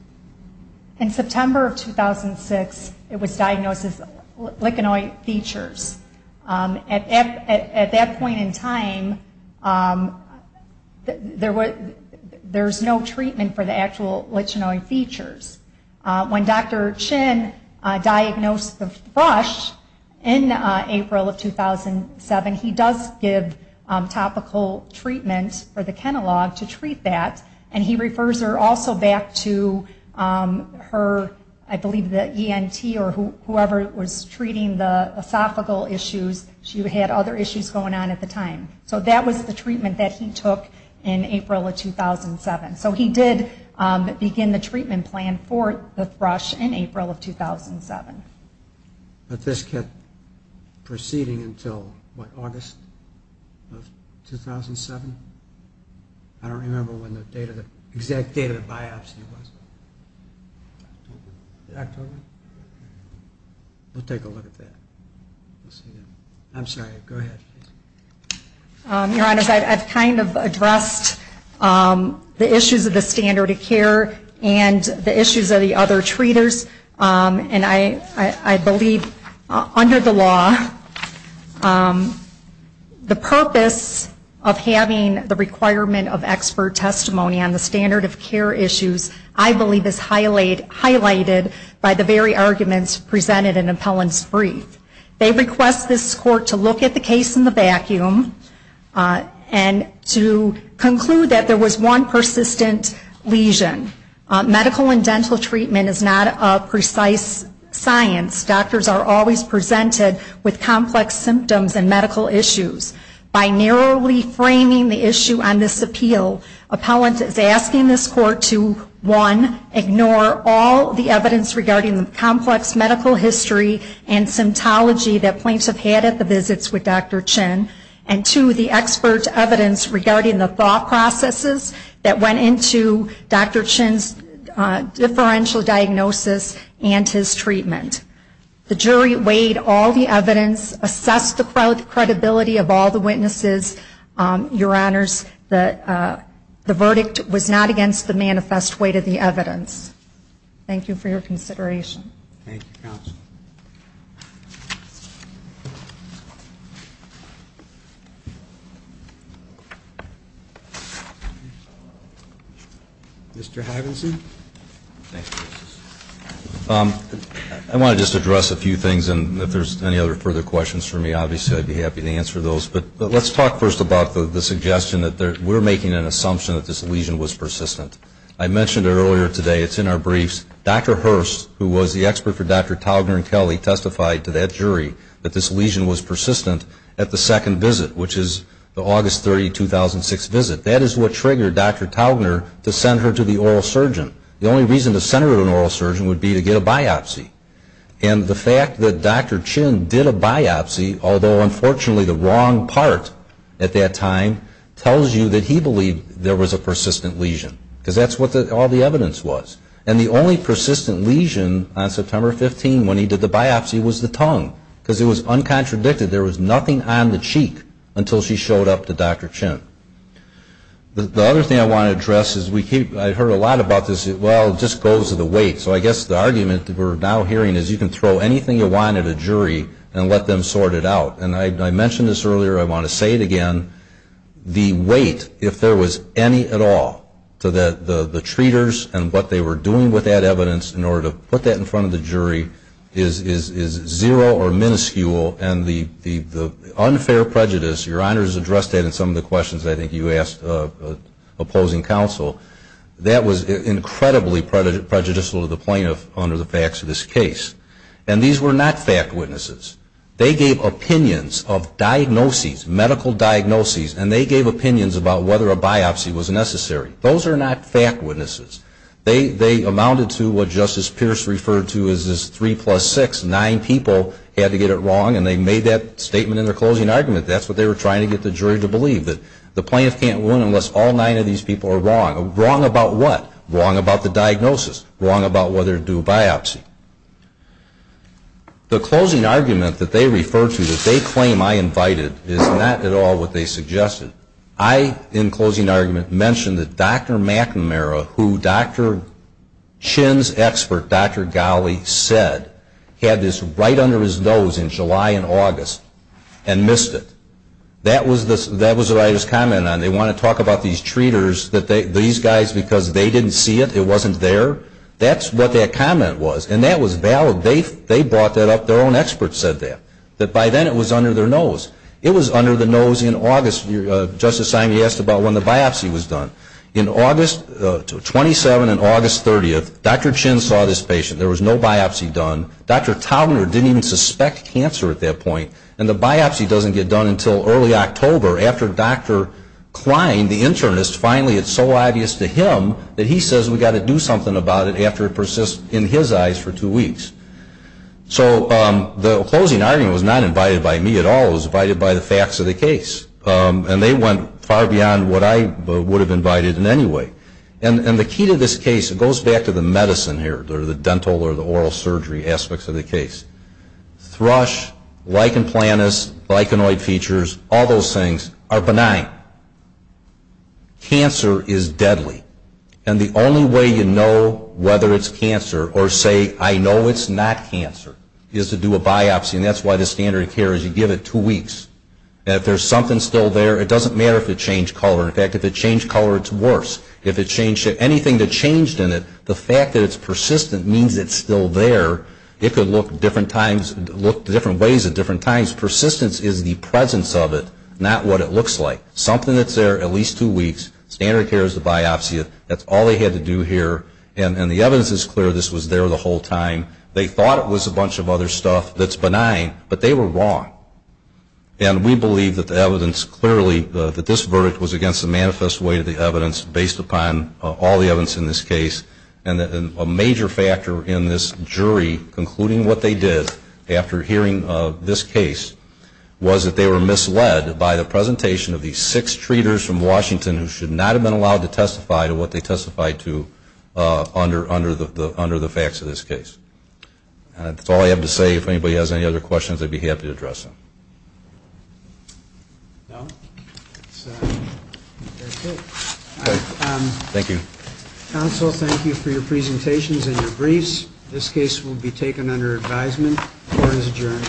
In September of 2006, it was diagnosed as lichenoid features. At that point, Dr. Krell, plaintiff's expert, said at that point in time, there's no treatment for the actual lichenoid features. When Dr. Chin diagnosed the thrush in April of 2007, he does give topical treatment for the Kenalog to treat that. And he refers her also back to her, I believe the ENT or whoever was treating the esophageal issues. She had other issues going on at the time. So he did begin the treatment plan for the thrush in April of 2007. But this kept proceeding until what, August of 2007? I don't remember when the exact date of the biopsy was. Dr. O'Brien? We'll take a look at that. I'm sorry, go ahead. Your Honors, I've kind of addressed the issues of the standard of care and the issues of the other treaters. And I believe under the law, the purpose of having the requirement of expert testimony on the standard of care issues, I believe is highlighted by the very arguments presented in Appellant's brief. They request this Court to look at the case in the vacuum and to conclude that there was one persistent lesion. Medical and dental treatment is not a precise science. Doctors are always presented with complex symptoms and medical issues. By narrowly framing the issue on this appeal, Appellant is asking this Court to look at the case in the vacuum and to, one, ignore all the evidence regarding the complex medical history and symptomology that plaintiffs have had at the visits with Dr. Chin, and two, the expert evidence regarding the thought processes that went into Dr. Chin's differential diagnosis and his treatment. The jury weighed all the evidence, assessed the credibility of all the witnesses. Your Honors, the verdict was not against the manifest weight of the evidence. Thank you for your consideration. Mr. Havinson? I want to just address a few things, and if there's any other further questions for me, obviously I'd be happy to answer those. First about the suggestion that we're making an assumption that this lesion was persistent. I mentioned earlier today, it's in our briefs, Dr. Hurst, who was the expert for Dr. Taugner and Kelly, testified to that jury that this lesion was persistent at the second visit, which is the August 30, 2006 visit. That is what triggered Dr. Taugner to send her to the oral surgeon. The only reason to send her to an oral surgeon would be to get a biopsy. And the fact that Dr. Chin did a biopsy, although unfortunately the wrong part at that time, tells you that he believed there was a persistent lesion, because that's what all the evidence was. And the only persistent lesion on September 15 when he did the biopsy was the tongue, because it was uncontradicted. There was nothing on the cheek until she showed up to Dr. Chin. The other thing I want to address is I heard a lot about this, well, it just goes to the weight. So I guess the argument that we're now hearing is you can throw anything you want at a jury and let them sort it out. And I mentioned this earlier, I want to say it again, the weight, if there was any at all, to the treaters and what they were doing with that evidence in order to put that in front of the jury is zero or minuscule. And the unfair prejudice, your honors addressed that in some of the questions I think you asked opposing counsel. That was incredibly prejudicial to the plaintiff under the facts of this case. And these were not fact witnesses. They gave opinions of diagnoses, medical diagnoses, and they gave opinions about whether a biopsy was necessary. Those are not fact witnesses. They amounted to what Justice Pierce referred to as three plus six, nine people had to get it wrong, and they made that statement in their closing argument. That's what they were trying to get the jury to believe, that the plaintiff can't win unless all nine of these people are wrong. Wrong about what? Wrong about the diagnosis. Wrong about whether to do a biopsy. The closing argument that they refer to that they claim I invited is not at all what they suggested. I, in closing argument, mentioned that Dr. McNamara, who Dr. Chin's expert, Dr. Ghali, said, had this right under his nose in July and August and missed it. That was what I was commenting on. They want to talk about these treaters, these guys because they didn't see it, it wasn't there. That's what that comment was, and that was valid. They brought that up. Their own expert said that, that by then it was under their nose. It was under the nose in August. In August 27 and August 30, Dr. Chin saw this patient. There was no biopsy done. Dr. Taubner didn't even suspect cancer at that point, and the biopsy doesn't get done until early October after Dr. Klein, the internist, finally it's so obvious to him that he says we've got to do something about it after it persists in his eyes for two weeks. So the closing argument was not invited by me at all. It was invited by the facts of the case, and they went far beyond what I would have invited in any way. And the key to this case, it goes back to the medicine here, the dental or the oral surgery aspects of the case. Thrush, lichen planus, lichenoid features, all those things are benign. Cancer is deadly, and the only way you know whether it's cancer or say, I know it's cancer, but it's not cancer, is to do a biopsy, and that's why the standard of care is you give it two weeks. And if there's something still there, it doesn't matter if it changed color. In fact, if it changed color, it's worse. If it changed to anything that changed in it, the fact that it's persistent means it's still there. It could look different ways at different times. Persistence is the presence of it, not what it looks like. Something that's there at least two weeks, standard of care is the biopsy. That's all they had to do here. And the evidence is clear this was there the whole time. They thought it was a bunch of other stuff that's benign, but they were wrong. And we believe that the evidence clearly, that this verdict was against the manifest way of the evidence based upon all the evidence in this case, and a major factor in this jury concluding what they did after hearing this case was that they were misled by the presentation of these six treaters from Washington who should not have been allowed to testify to what they testified to under the facts of this case. That's all I have to say. If anybody has any other questions, I'd be happy to address them. Thank you. Counsel, thank you for your presentations and your briefs. This case will be taken under advisement. Court is adjourned.